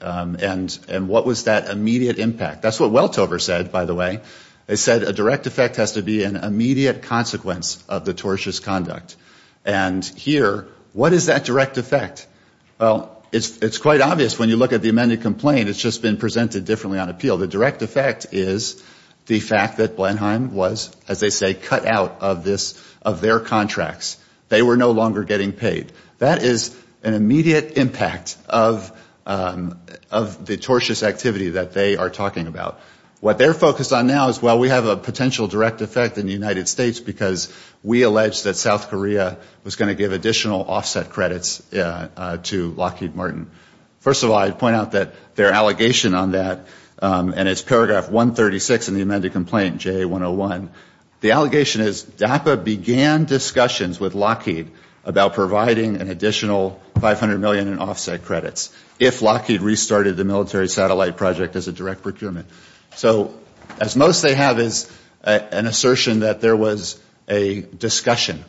what was that immediate impact? That's what Weltover said, by the way. They said a direct effect has to be an immediate consequence of the tortious conduct. And here, what is that direct effect? Well, it's quite obvious when you look at the amended complaint, it's just been presented differently on appeal. The direct effect is the fact that Blenheim was, as they say, cut out of their contracts. They were no longer getting paid. That is an immediate impact of the tortious activity that they are talking about. What they're focused on now is, well, we have a potential direct effect in the United States because we alleged that South Korea was going to give additional offset credits to Lockheed Martin. First of all, I'd point out that their allegation on that, and it's paragraph 136 in the amended complaint, JA101. The allegation is DAPA began discussions with Lockheed about providing an additional $500 million in offset credits if Lockheed restarted the military satellite project as a direct procurement. So as most they have is an assertion that there was a discussion.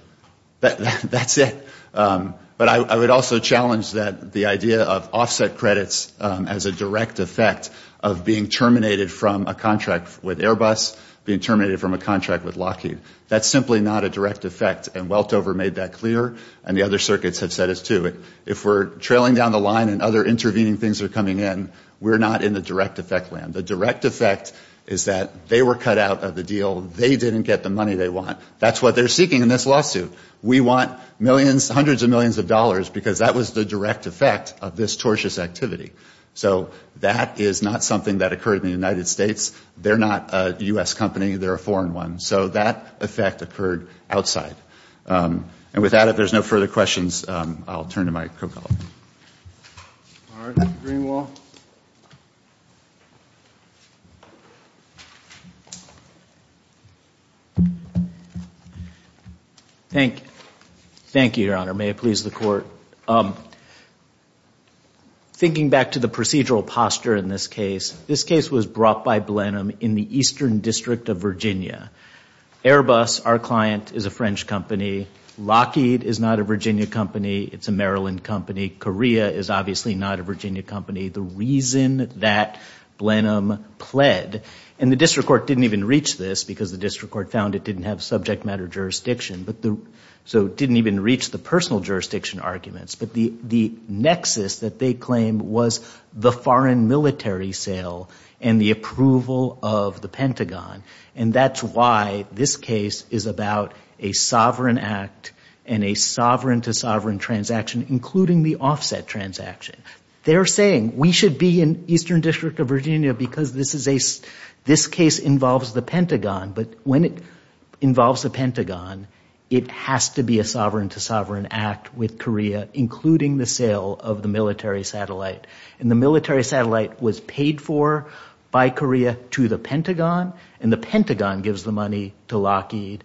That's it. But I would also challenge the idea of offset credits as a direct effect of being terminated from a contract with Airbus, being terminated from a contract with Lockheed. That's simply not a direct effect, and Weltover made that clear, and the other circuits have said it too. If we're trailing down the line and other intervening things are coming in, we're not in the direct effect land. The direct effect is that they were cut out of the deal. They didn't get the money they want. That's what they're seeking in this lawsuit. We want millions, hundreds of millions of dollars because that was the direct effect of this tortious activity. So that is not something that occurred in the United States. They're not a U.S. company. They're a foreign one. So that effect occurred outside. And with that, if there's no further questions, I'll turn the microphone off. All right. Mr. Greenwald. Thank you, Your Honor. May it please the Court. Thinking back to the procedural posture in this case, this case was brought by Blenheim in the eastern district of Virginia. Airbus, our client, is a French company. Lockheed is not a Virginia company. It's a Maryland company. Korea is obviously not a Virginia company. The reason that Blenheim pled, and the district court didn't even reach this because the district court found it didn't have subject matter jurisdiction, so it didn't even reach the personal jurisdiction arguments, but the nexus that they claimed was the foreign military sale and the approval of the Pentagon. And that's why this case is about a sovereign act and a sovereign-to-sovereign transaction, including the offset transaction. They're saying we should be in eastern district of Virginia because this case involves the Pentagon. But when it involves the Pentagon, it has to be a sovereign-to-sovereign act with Korea, including the sale of the military satellite. And the military satellite was paid for by Korea to the Pentagon and the Pentagon gives the money to Lockheed.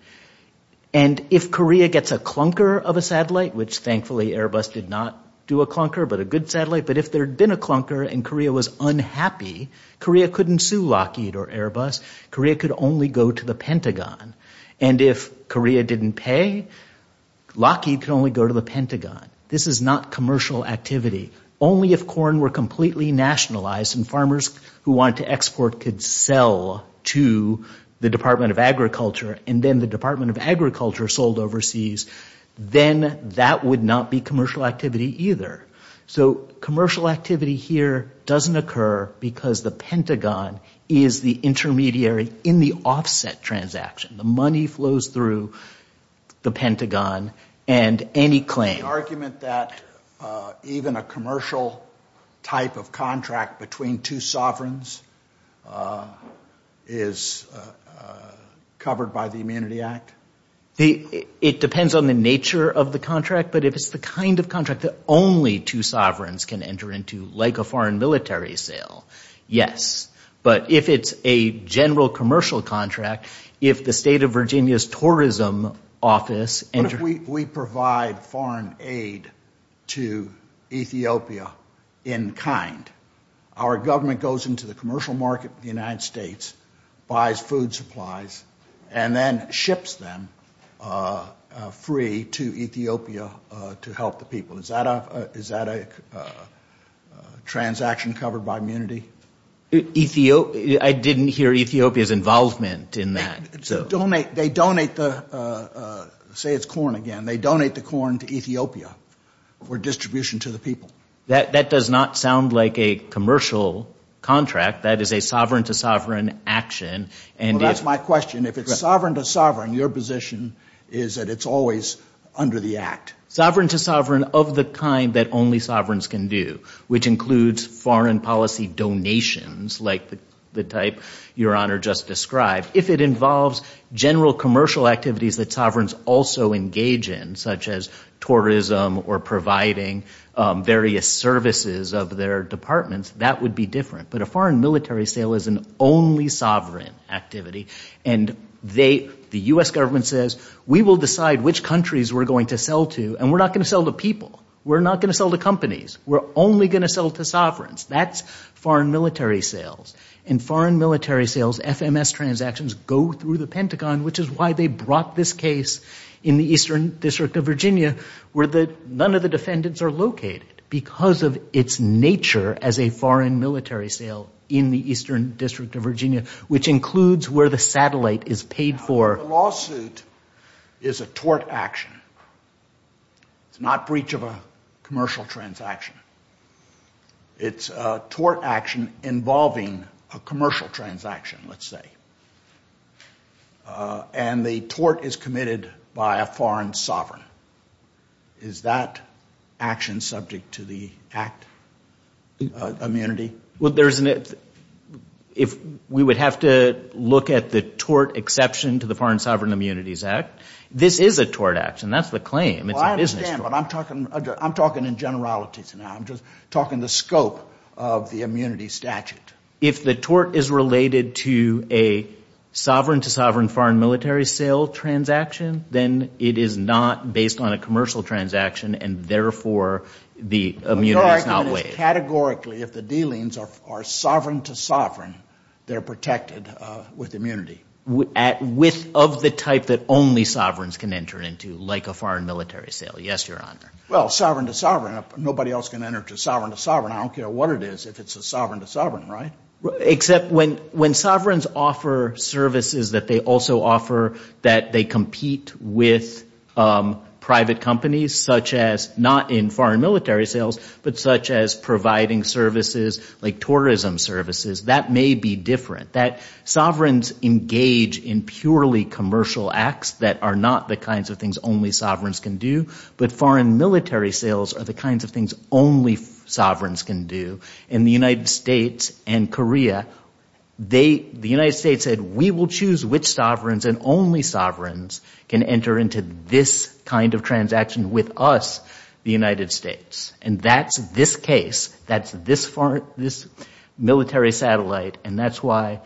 And if Korea gets a clunker of a satellite, which thankfully Airbus did not do a clunker but a good satellite, but if there had been a clunker and Korea was unhappy, Korea couldn't sue Lockheed or Airbus. Korea could only go to the Pentagon. And if Korea didn't pay, Lockheed could only go to the Pentagon. This is not commercial activity. Only if corn were completely nationalized and farmers who wanted to export could sell to the Department of Agriculture and then the Department of Agriculture sold overseas, then that would not be commercial activity either. So commercial activity here doesn't occur because the Pentagon is the intermediary in the offset transaction. The money flows through the Pentagon and any claim. Is there any argument that even a commercial type of contract between two sovereigns is covered by the Immunity Act? It depends on the nature of the contract, but if it's the kind of contract that only two sovereigns can enter into, like a foreign military sale, yes. But if it's a general commercial contract, if the state of Virginia's tourism office… What if we provide foreign aid to Ethiopia in kind? Our government goes into the commercial market in the United States, buys food supplies, and then ships them free to Ethiopia to help the people. Is that a transaction covered by immunity? I didn't hear Ethiopia's involvement in that. Say it's corn again. They donate the corn to Ethiopia for distribution to the people. That does not sound like a commercial contract. That is a sovereign-to-sovereign action. That's my question. If it's sovereign-to-sovereign, your position is that it's always under the Act. Sovereign-to-sovereign of the kind that only sovereigns can do, which includes foreign policy donations, like the type Your Honor just described. If it involves general commercial activities that sovereigns also engage in, such as tourism or providing various services of their departments, that would be different. But a foreign military sale is an only sovereign activity, and the U.S. government says, we will decide which countries we're going to sell to, and we're not going to sell to people. We're not going to sell to companies. We're only going to sell to sovereigns. That's foreign military sales. In foreign military sales, FMS transactions go through the Pentagon, which is why they brought this case in the Eastern District of Virginia, where none of the defendants are located, because of its nature as a foreign military sale in the Eastern District of Virginia, which includes where the satellite is paid for. A lawsuit is a tort action. It's not breach of a commercial transaction. It's a tort action involving a commercial transaction, let's say. And the tort is committed by a foreign sovereign. Is that action subject to the Act of Immunity? Well, there's an – if we would have to look at the tort exception to the Foreign Sovereign Immunities Act, this is a tort action. That's the claim. Well, I understand, but I'm talking in generalities now. I'm just talking the scope of the immunity statute. If the tort is related to a sovereign-to-sovereign foreign military sale transaction, then it is not based on a commercial transaction, and therefore the immunity is not waived. Categorically, if the dealings are sovereign-to-sovereign, they're protected with immunity. With – of the type that only sovereigns can enter into, like a foreign military sale. Yes, Your Honor. Well, sovereign-to-sovereign. Nobody else can enter into sovereign-to-sovereign. I don't care what it is if it's a sovereign-to-sovereign, right? Except when sovereigns offer services that they also offer that they compete with private companies, such as not in foreign military sales, but such as providing services like tourism services, that may be different. Sovereigns engage in purely commercial acts that are not the kinds of things only sovereigns can do, but foreign military sales are the kinds of things only sovereigns can do. In the United States and Korea, the United States said, we will choose which sovereigns and only sovereigns can enter into this kind of transaction with us, the United States. And that's this case. That's this military satellite. And that's why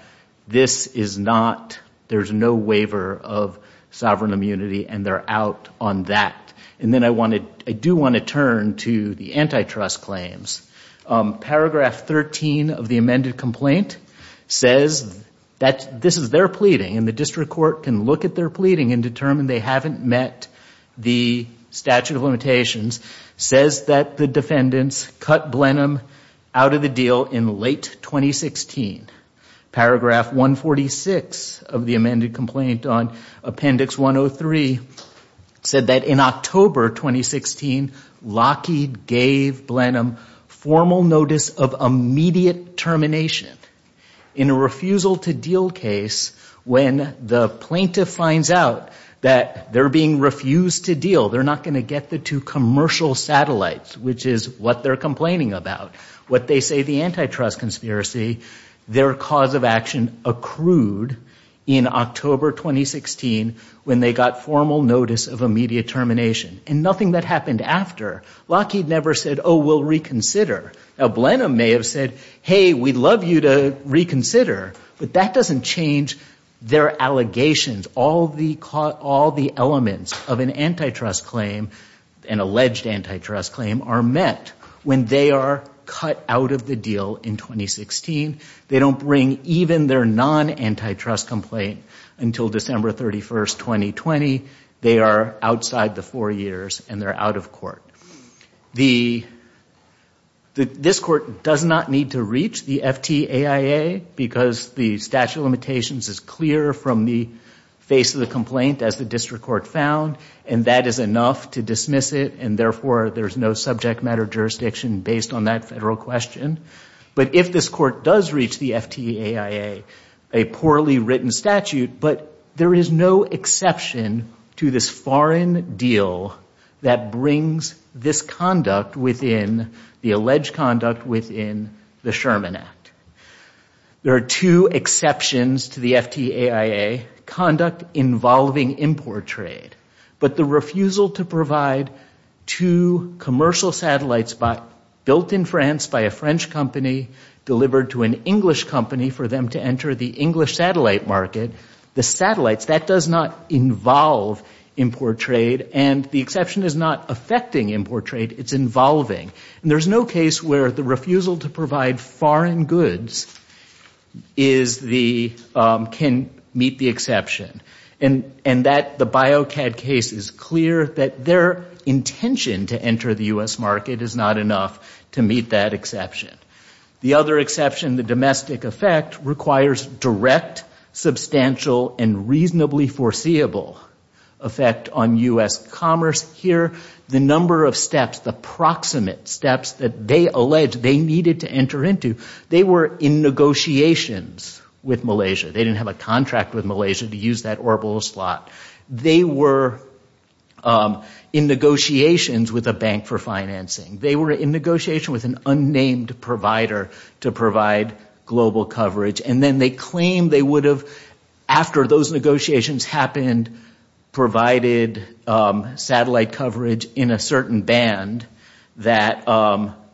this is not – there's no waiver of sovereign immunity, and they're out on that. And then I want to – I do want to turn to the antitrust claims. Paragraph 13 of the amended complaint says that this is their pleading, and the district court can look at their pleading and determine they haven't met the statute of limitations. It says that the defendants cut Blenheim out of the deal in late 2016. Paragraph 146 of the amended complaint on appendix 103 said that in October 2016, Lockheed gave Blenheim formal notice of immediate termination in a refusal-to-deal case when the plaintiff finds out that they're being refused to deal. They're not going to get the two commercial satellites, which is what they're complaining about. What they say the antitrust conspiracy, their cause of action accrued in October 2016 when they got formal notice of immediate termination, and nothing that happened after. Lockheed never said, oh, we'll reconsider. Now, Blenheim may have said, hey, we'd love you to reconsider, but that doesn't change their allegations. All the elements of an antitrust claim, an alleged antitrust claim, are met when they are cut out of the deal in 2016. They don't bring even their non-antitrust complaint until December 31, 2020. They are outside the four years, and they're out of court. This court does not need to reach the FTAIA because the statute of limitations is clear from the face of the complaint as the district court found, and that is enough to dismiss it, and therefore there's no subject matter jurisdiction based on that federal question. But if this court does reach the FTAIA, a poorly written statute, but there is no exception to this foreign deal that brings this conduct within the alleged conduct within the Sherman Act. There are two exceptions to the FTAIA, conduct involving import trade, but the refusal to provide two commercial satellites built in France by a French company delivered to an English company for them to enter the English satellite market, the satellites, that does not involve import trade, and the exception is not affecting import trade. It's involving, and there's no case where the refusal to provide foreign goods can meet the exception, and the BioCAD case is clear that their intention to enter the U.S. market is not enough to meet that exception. The other exception, the domestic effect, requires direct, substantial, and reasonably foreseeable effect on U.S. commerce. Here, the number of steps, the proximate steps that they allege they needed to enter into, they were in negotiations with Malaysia. They didn't have a contract with Malaysia to use that orbital slot. They were in negotiations with a bank for financing. They were in negotiations with an unnamed provider to provide global coverage, and then they claim they would have, after those negotiations happened, provided satellite coverage in a certain band that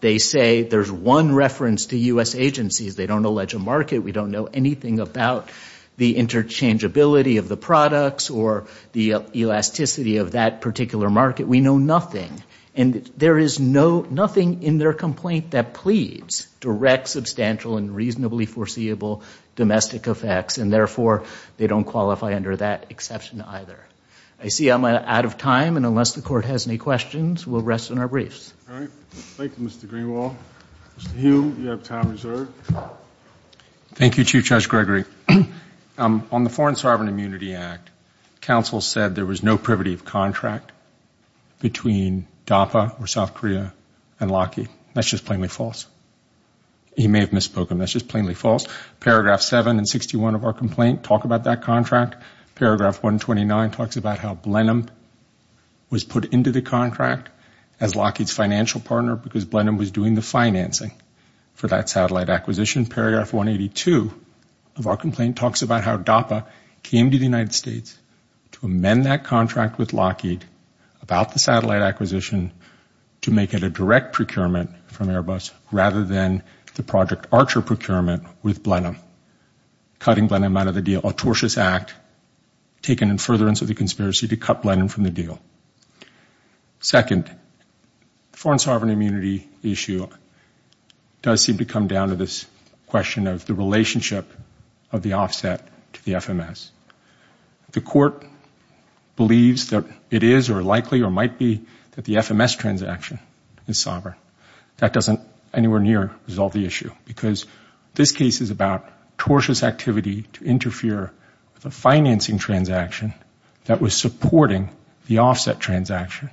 they say there's one reference to U.S. agencies. They don't allege a market. We don't know anything about the interchangeability of the products or the elasticity of that particular market. We know nothing, and there is nothing in their complaint that pleads direct, substantial, and reasonably foreseeable domestic effects, and therefore they don't qualify under that exception either. I see I'm out of time, and unless the Court has any questions, we'll rest on our briefs. All right. Thank you, Mr. Greenwald. Mr. Hume, you have time reserved. Thank you, Chief Judge Gregory. On the Foreign Sovereign Immunity Act, counsel said there was no privative contract between DAPA or South Korea and Lockheed. That's just plainly false. He may have misspoken. That's just plainly false. Paragraph 7 and 61 of our complaint talk about that contract. Paragraph 129 talks about how Blenheim was put into the contract as Lockheed's financial partner because Blenheim was doing the financing for that satellite acquisition. Paragraph 182 of our complaint talks about how DAPA came to the United States to amend that contract with Lockheed about the satellite acquisition to make it a direct procurement from Airbus rather than the Project Archer procurement with Blenheim, cutting Blenheim out of the deal. An atrocious act taken in furtherance of the conspiracy to cut Blenheim from the deal. Second, the foreign sovereign immunity issue does seem to come down to this question of the relationship of the offset to the FMS. The Court believes that it is or likely or might be that the FMS transaction is sovereign. That doesn't anywhere near resolve the issue because this case is about tortuous activity to interfere with the financing transaction that was supporting the offset transaction.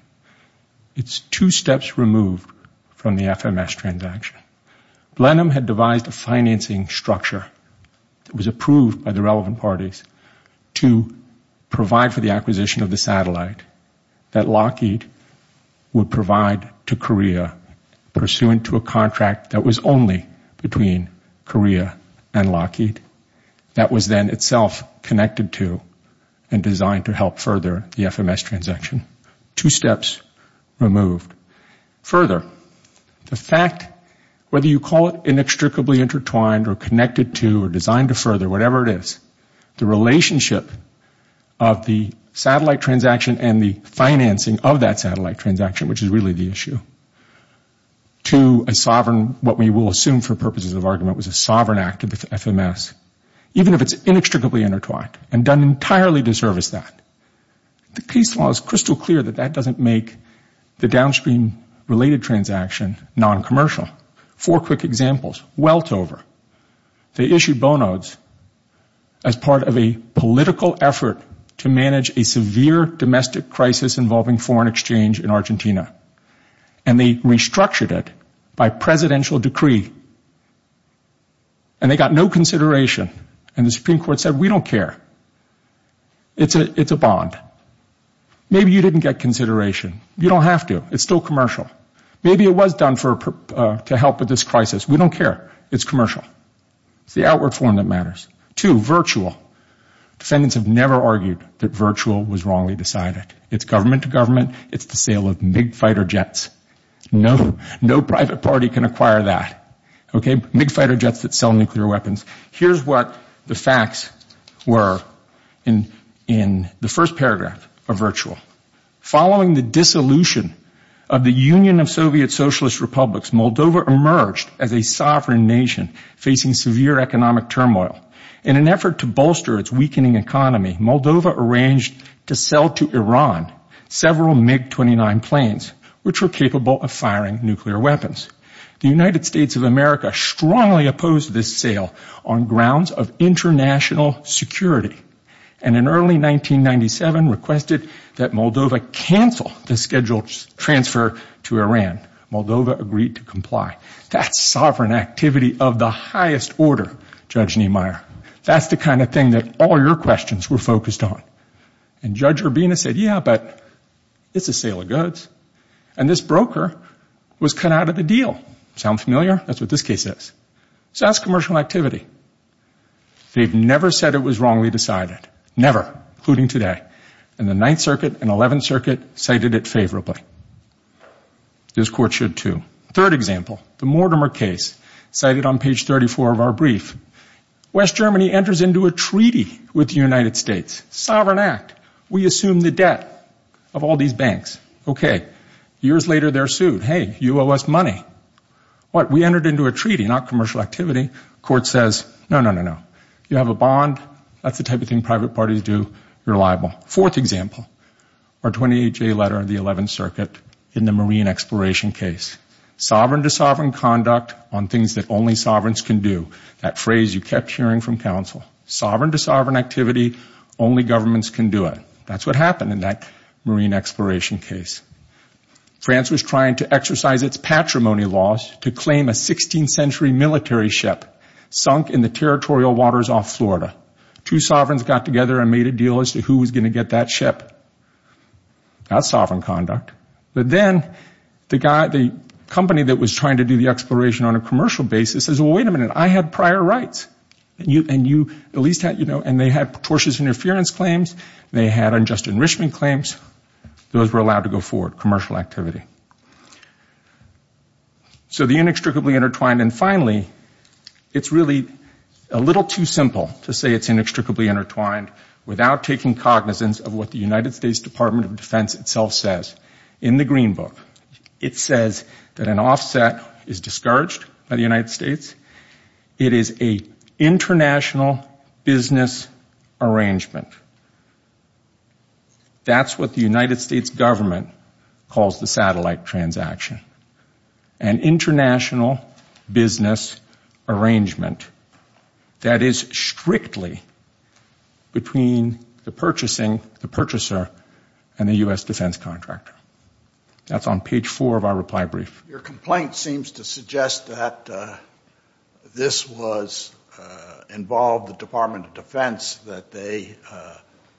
It's two steps removed from the FMS transaction. Blenheim had devised a financing structure. It was approved by the relevant parties to provide for the acquisition of the satellite that Lockheed would provide to Korea pursuant to a contract that was only between Korea and Lockheed that was then itself connected to and designed to help further the FMS transaction. Two steps removed. Further, the fact, whether you call it inextricably intertwined or connected to or designed to further whatever it is, the relationship of the satellite transaction and the financing of that satellite transaction which is really the issue to a sovereign what we will assume for purposes of argument was a sovereign act of the FMS even if it's inextricably intertwined and done entirely to service that. The peace law is crystal clear that that doesn't make the downstream related transaction noncommercial. Four quick examples. Weltover. They issued bonods as part of a political effort to manage a severe domestic crisis involving foreign exchange in Argentina and they restructured it by presidential decree and they got no consideration and the Supreme Court said we don't care. It's a bond. Maybe you didn't get consideration. You don't have to. It's still commercial. Maybe it was done to help with this crisis. We don't care. It's commercial. It's the outward form that matters. Two, virtual. Defendants have never argued that virtual was wrongly decided. It's government to government. It's the sale of big fighter jets. No private party can acquire that. Big fighter jets that sell nuclear weapons. Here's what the facts were in the first paragraph of virtual. Following the dissolution of the Union of Soviet Socialist Republics, Moldova emerged as a sovereign nation facing severe economic turmoil. In an effort to bolster its weakening economy, Moldova arranged to sell to Iran several MiG-29 planes which were capable of firing nuclear weapons. The United States of America strongly opposed this sale on grounds of international security and in early 1997 requested that Moldova cancel the scheduled transfer to Iran. Moldova agreed to comply. That's sovereign activity of the highest order, Judge Niemeyer. That's the kind of thing that all your questions were focused on. And Judge Urbina said, yeah, but it's a sale of goods. And this broker was cut out of the deal. Sound familiar? That's what this case is. So that's commercial activity. They've never said it was wrongly decided. Never, including today. And the 9th Circuit and 11th Circuit cited it favorably. This court should too. Third example, the Mortimer case cited on page 34 of our brief. West Germany enters into a treaty with the United States. Sovereign act. We assume the debt of all these banks. Okay. Years later, they're sued. Hey, you owe us money. What? We entered into a treaty, not commercial activity. Court says, no, no, no, no. You have a bond. That's the type of thing private parties do. Reliable. Fourth example, our 28-J letter of the 11th Circuit in the marine exploration case. Sovereign to sovereign conduct on things that only sovereigns can do. That phrase you kept hearing from counsel. Sovereign to sovereign activity. Only governments can do it. That's what happened in that marine exploration case. France was trying to exercise its patrimony laws to claim a 16th century military ship sunk in the territorial waters off Florida. Two sovereigns got together and made a deal as to who was going to get that ship. That's sovereign conduct. But then the company that was trying to do the exploration on a commercial basis says, well, wait a minute. I have prior rights. And they have tortious interference claims. They had unjust enrichment claims. Those were allowed to go forward, commercial activity. So the inextricably intertwined. And finally, it's really a little too simple to say it's inextricably intertwined without taking cognizance of what the United States Department of Defense itself says. In the Green Book, it says that an offset is discharged by the United States. It is an international business arrangement. That's what the United States government calls the satellite transaction. An international business arrangement that is strictly between the purchasing, the purchaser, and the U.S. defense contractor. That's on page four of our reply brief. Your complaint seems to suggest that this involved the Department of Defense, that they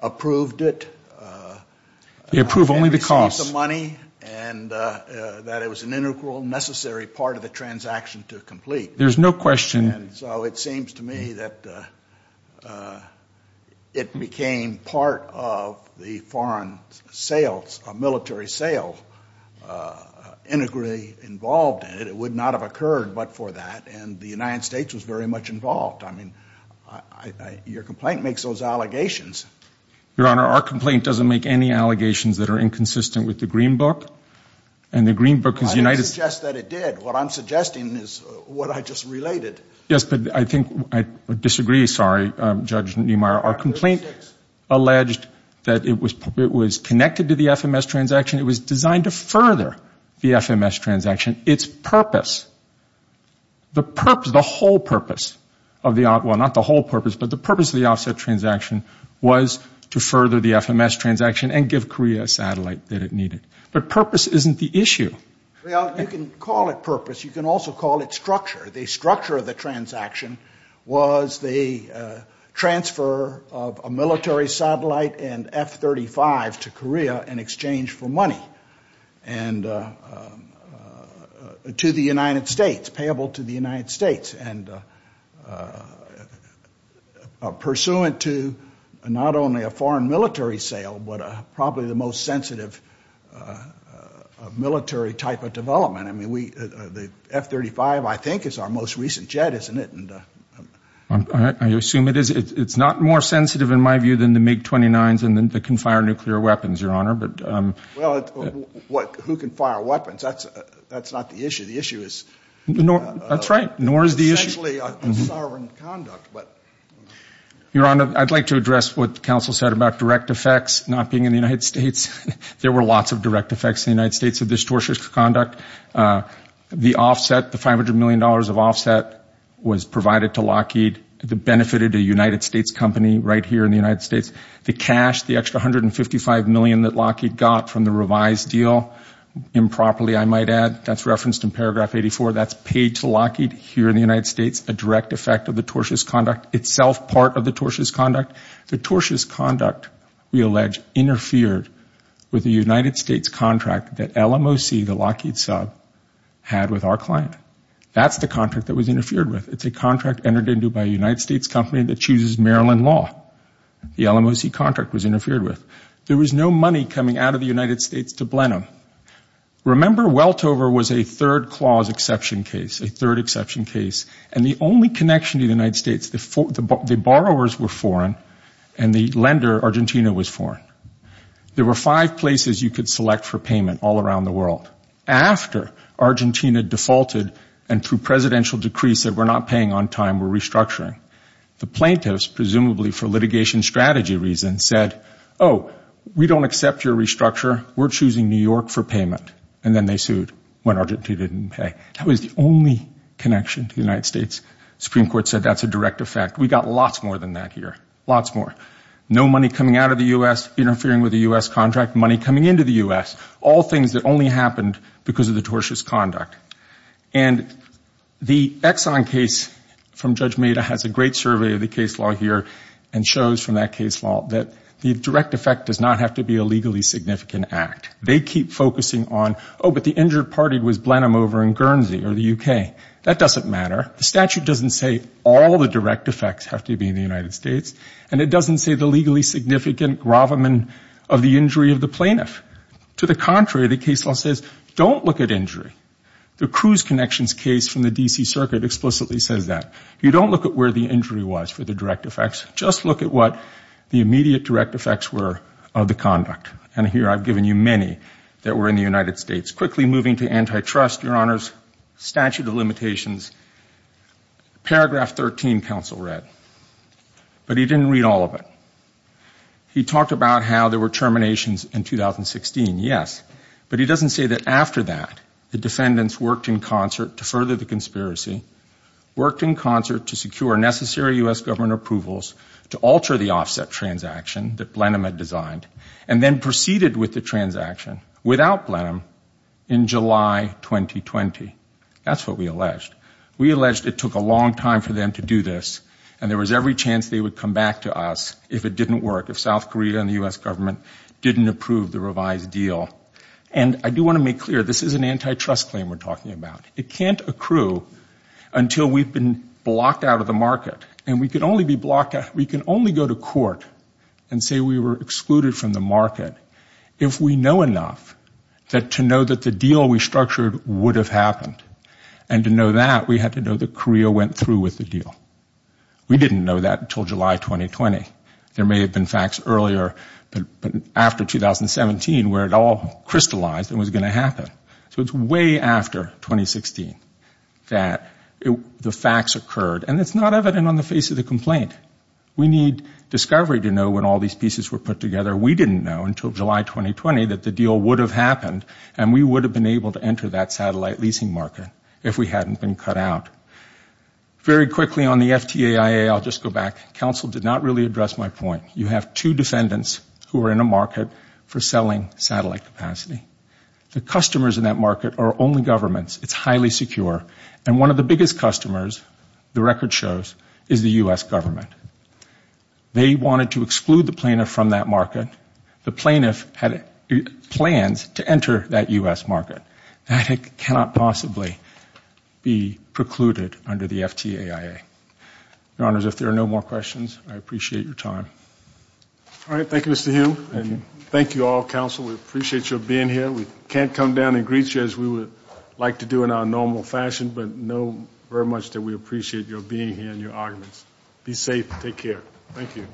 approved it. They approved only because. And received the money, and that it was an integral, necessary part of the transaction to complete. There's no question. And so it seems to me that it became part of the foreign sales, military sales, integrally involved. And it would not have occurred but for that. And the United States was very much involved. I mean, your complaint makes those allegations. Your Honor, our complaint doesn't make any allegations that are inconsistent with the Green Book. And the Green Book is united. I didn't suggest that it did. What I'm suggesting is what I just related. Yes, but I think, I disagree, sorry, Judge Niemeyer. Our complaint alleged that it was connected to the FMS transaction. It was designed to further the FMS transaction. Its purpose, the purpose, the whole purpose of the, well, not the whole purpose, but the purpose of the offset transaction was to further the FMS transaction and give Korea a satellite that it needed. But purpose isn't the issue. Your Honor, you can call it purpose. You can also call it structure. The structure of the transaction was the transfer of a military satellite and F-35 to Korea in exchange for money and to the United States, payable to the United States. And pursuant to not only a foreign military sale, but probably the most sensitive military type of development. I mean, the F-35, I think, is our most recent jet, isn't it? I assume it is. It's not more sensitive, in my view, than the MiG-29s and that can fire nuclear weapons, Your Honor. Well, who can fire weapons? That's not the issue. That's right. Nor is the issue. Your Honor, I'd like to address what the counsel said about direct effects not being in the United States. There were lots of direct effects in the United States of this tortious conduct. The offset, the $500 million of offset was provided to Lockheed that benefited a United States company right here in the United States. The cash, the extra $155 million that Lockheed got from the revised deal improperly, I might add. That's referenced in paragraph 84. That's paid to Lockheed here in the United States, a direct effect of the tortious conduct, itself part of the tortious conduct. The tortious conduct, we allege, interfered with the United States contract that LMOC, the Lockheed sub, had with our client. That's the contract that was interfered with. It's a contract entered into by a United States company that chooses Maryland law. The LMOC contract was interfered with. There was no money coming out of the United States to Blenheim. Remember, Weltover was a third clause exception case, a third exception case, and the only connection to the United States, the borrowers were foreign and the lender, Argentina, was foreign. There were five places you could select for payment all around the world. After Argentina defaulted and through presidential decrees that were not paying on time were restructuring, the plaintiffs, presumably for litigation strategy reasons, said, oh, we don't accept your restructure. We're choosing New York for payment, and then they sued when Argentina didn't pay. That was the only connection to the United States. The Supreme Court said that's a direct effect. We got lots more than that here, lots more. No money coming out of the U.S., interfering with the U.S. contract, money coming into the U.S., all things that only happened because of the tortious conduct. And the Exxon case from Judge Meda has a great survey of the case law here and shows from that case law that the direct effect does not have to be a legally significant act. They keep focusing on, oh, but the injured party was Blenheim over in Guernsey or the U.K. That doesn't matter. The statute doesn't say all the direct effects have to be in the United States, and it doesn't say the legally significant gravamen of the injury of the plaintiff. To the contrary, the case law says don't look at injury. The Cruz Connections case from the D.C. Circuit explicitly says that. You don't look at where the injury was for the direct effects. Just look at what the immediate direct effects were of the conduct. And here I've given you many that were in the United States. Quickly moving to antitrust, Your Honors, statute of limitations, paragraph 13 counsel read, but he didn't read all of it. He talked about how there were terminations in 2016, yes, but he doesn't say that after that the defendants worked in concert to further the conspiracy, worked in concert to secure necessary U.S. government approvals to alter the offset transaction that Blenheim had designed, and then proceeded with the transaction without Blenheim in July 2020. That's what we alleged. We alleged it took a long time for them to do this, and there was every chance they would come back to us if it didn't work, if South Korea and the U.S. government didn't approve the revised deal. And I do want to make clear, this is an antitrust claim we're talking about. It can't accrue until we've been blocked out of the market. And we can only go to court and say we were excluded from the market if we know enough to know that the deal we structured would have happened. And to know that, we have to know that Korea went through with the deal. We didn't know that until July 2020. There may have been facts earlier after 2017 where it all crystallized and was going to happen. So it's way after 2016 that the facts occurred, and it's not evident on the face of the complaint. We need discovery to know when all these pieces were put together. We didn't know until July 2020 that the deal would have happened, and we would have been able to enter that satellite leasing market if we hadn't been cut out. Very quickly on the FTAIA, I'll just go back. Counsel did not really address my point. You have two defendants who are in a market for selling satellite capacity. The customers in that market are only governments. It's highly secure. And one of the biggest customers, the record shows, is the U.S. government. They wanted to exclude the plaintiff from that market. The plaintiff had plans to enter that U.S. market. That cannot possibly be precluded under the FTAIA. Your Honors, if there are no more questions, I appreciate your time. All right. Thank you, Mr. Hume, and thank you all, Counsel. We appreciate you being here. We can't come down and greet you as we would like to do in our normal fashion, but know very much that we appreciate your being here and your arguments. Be safe. Take care. Thank you.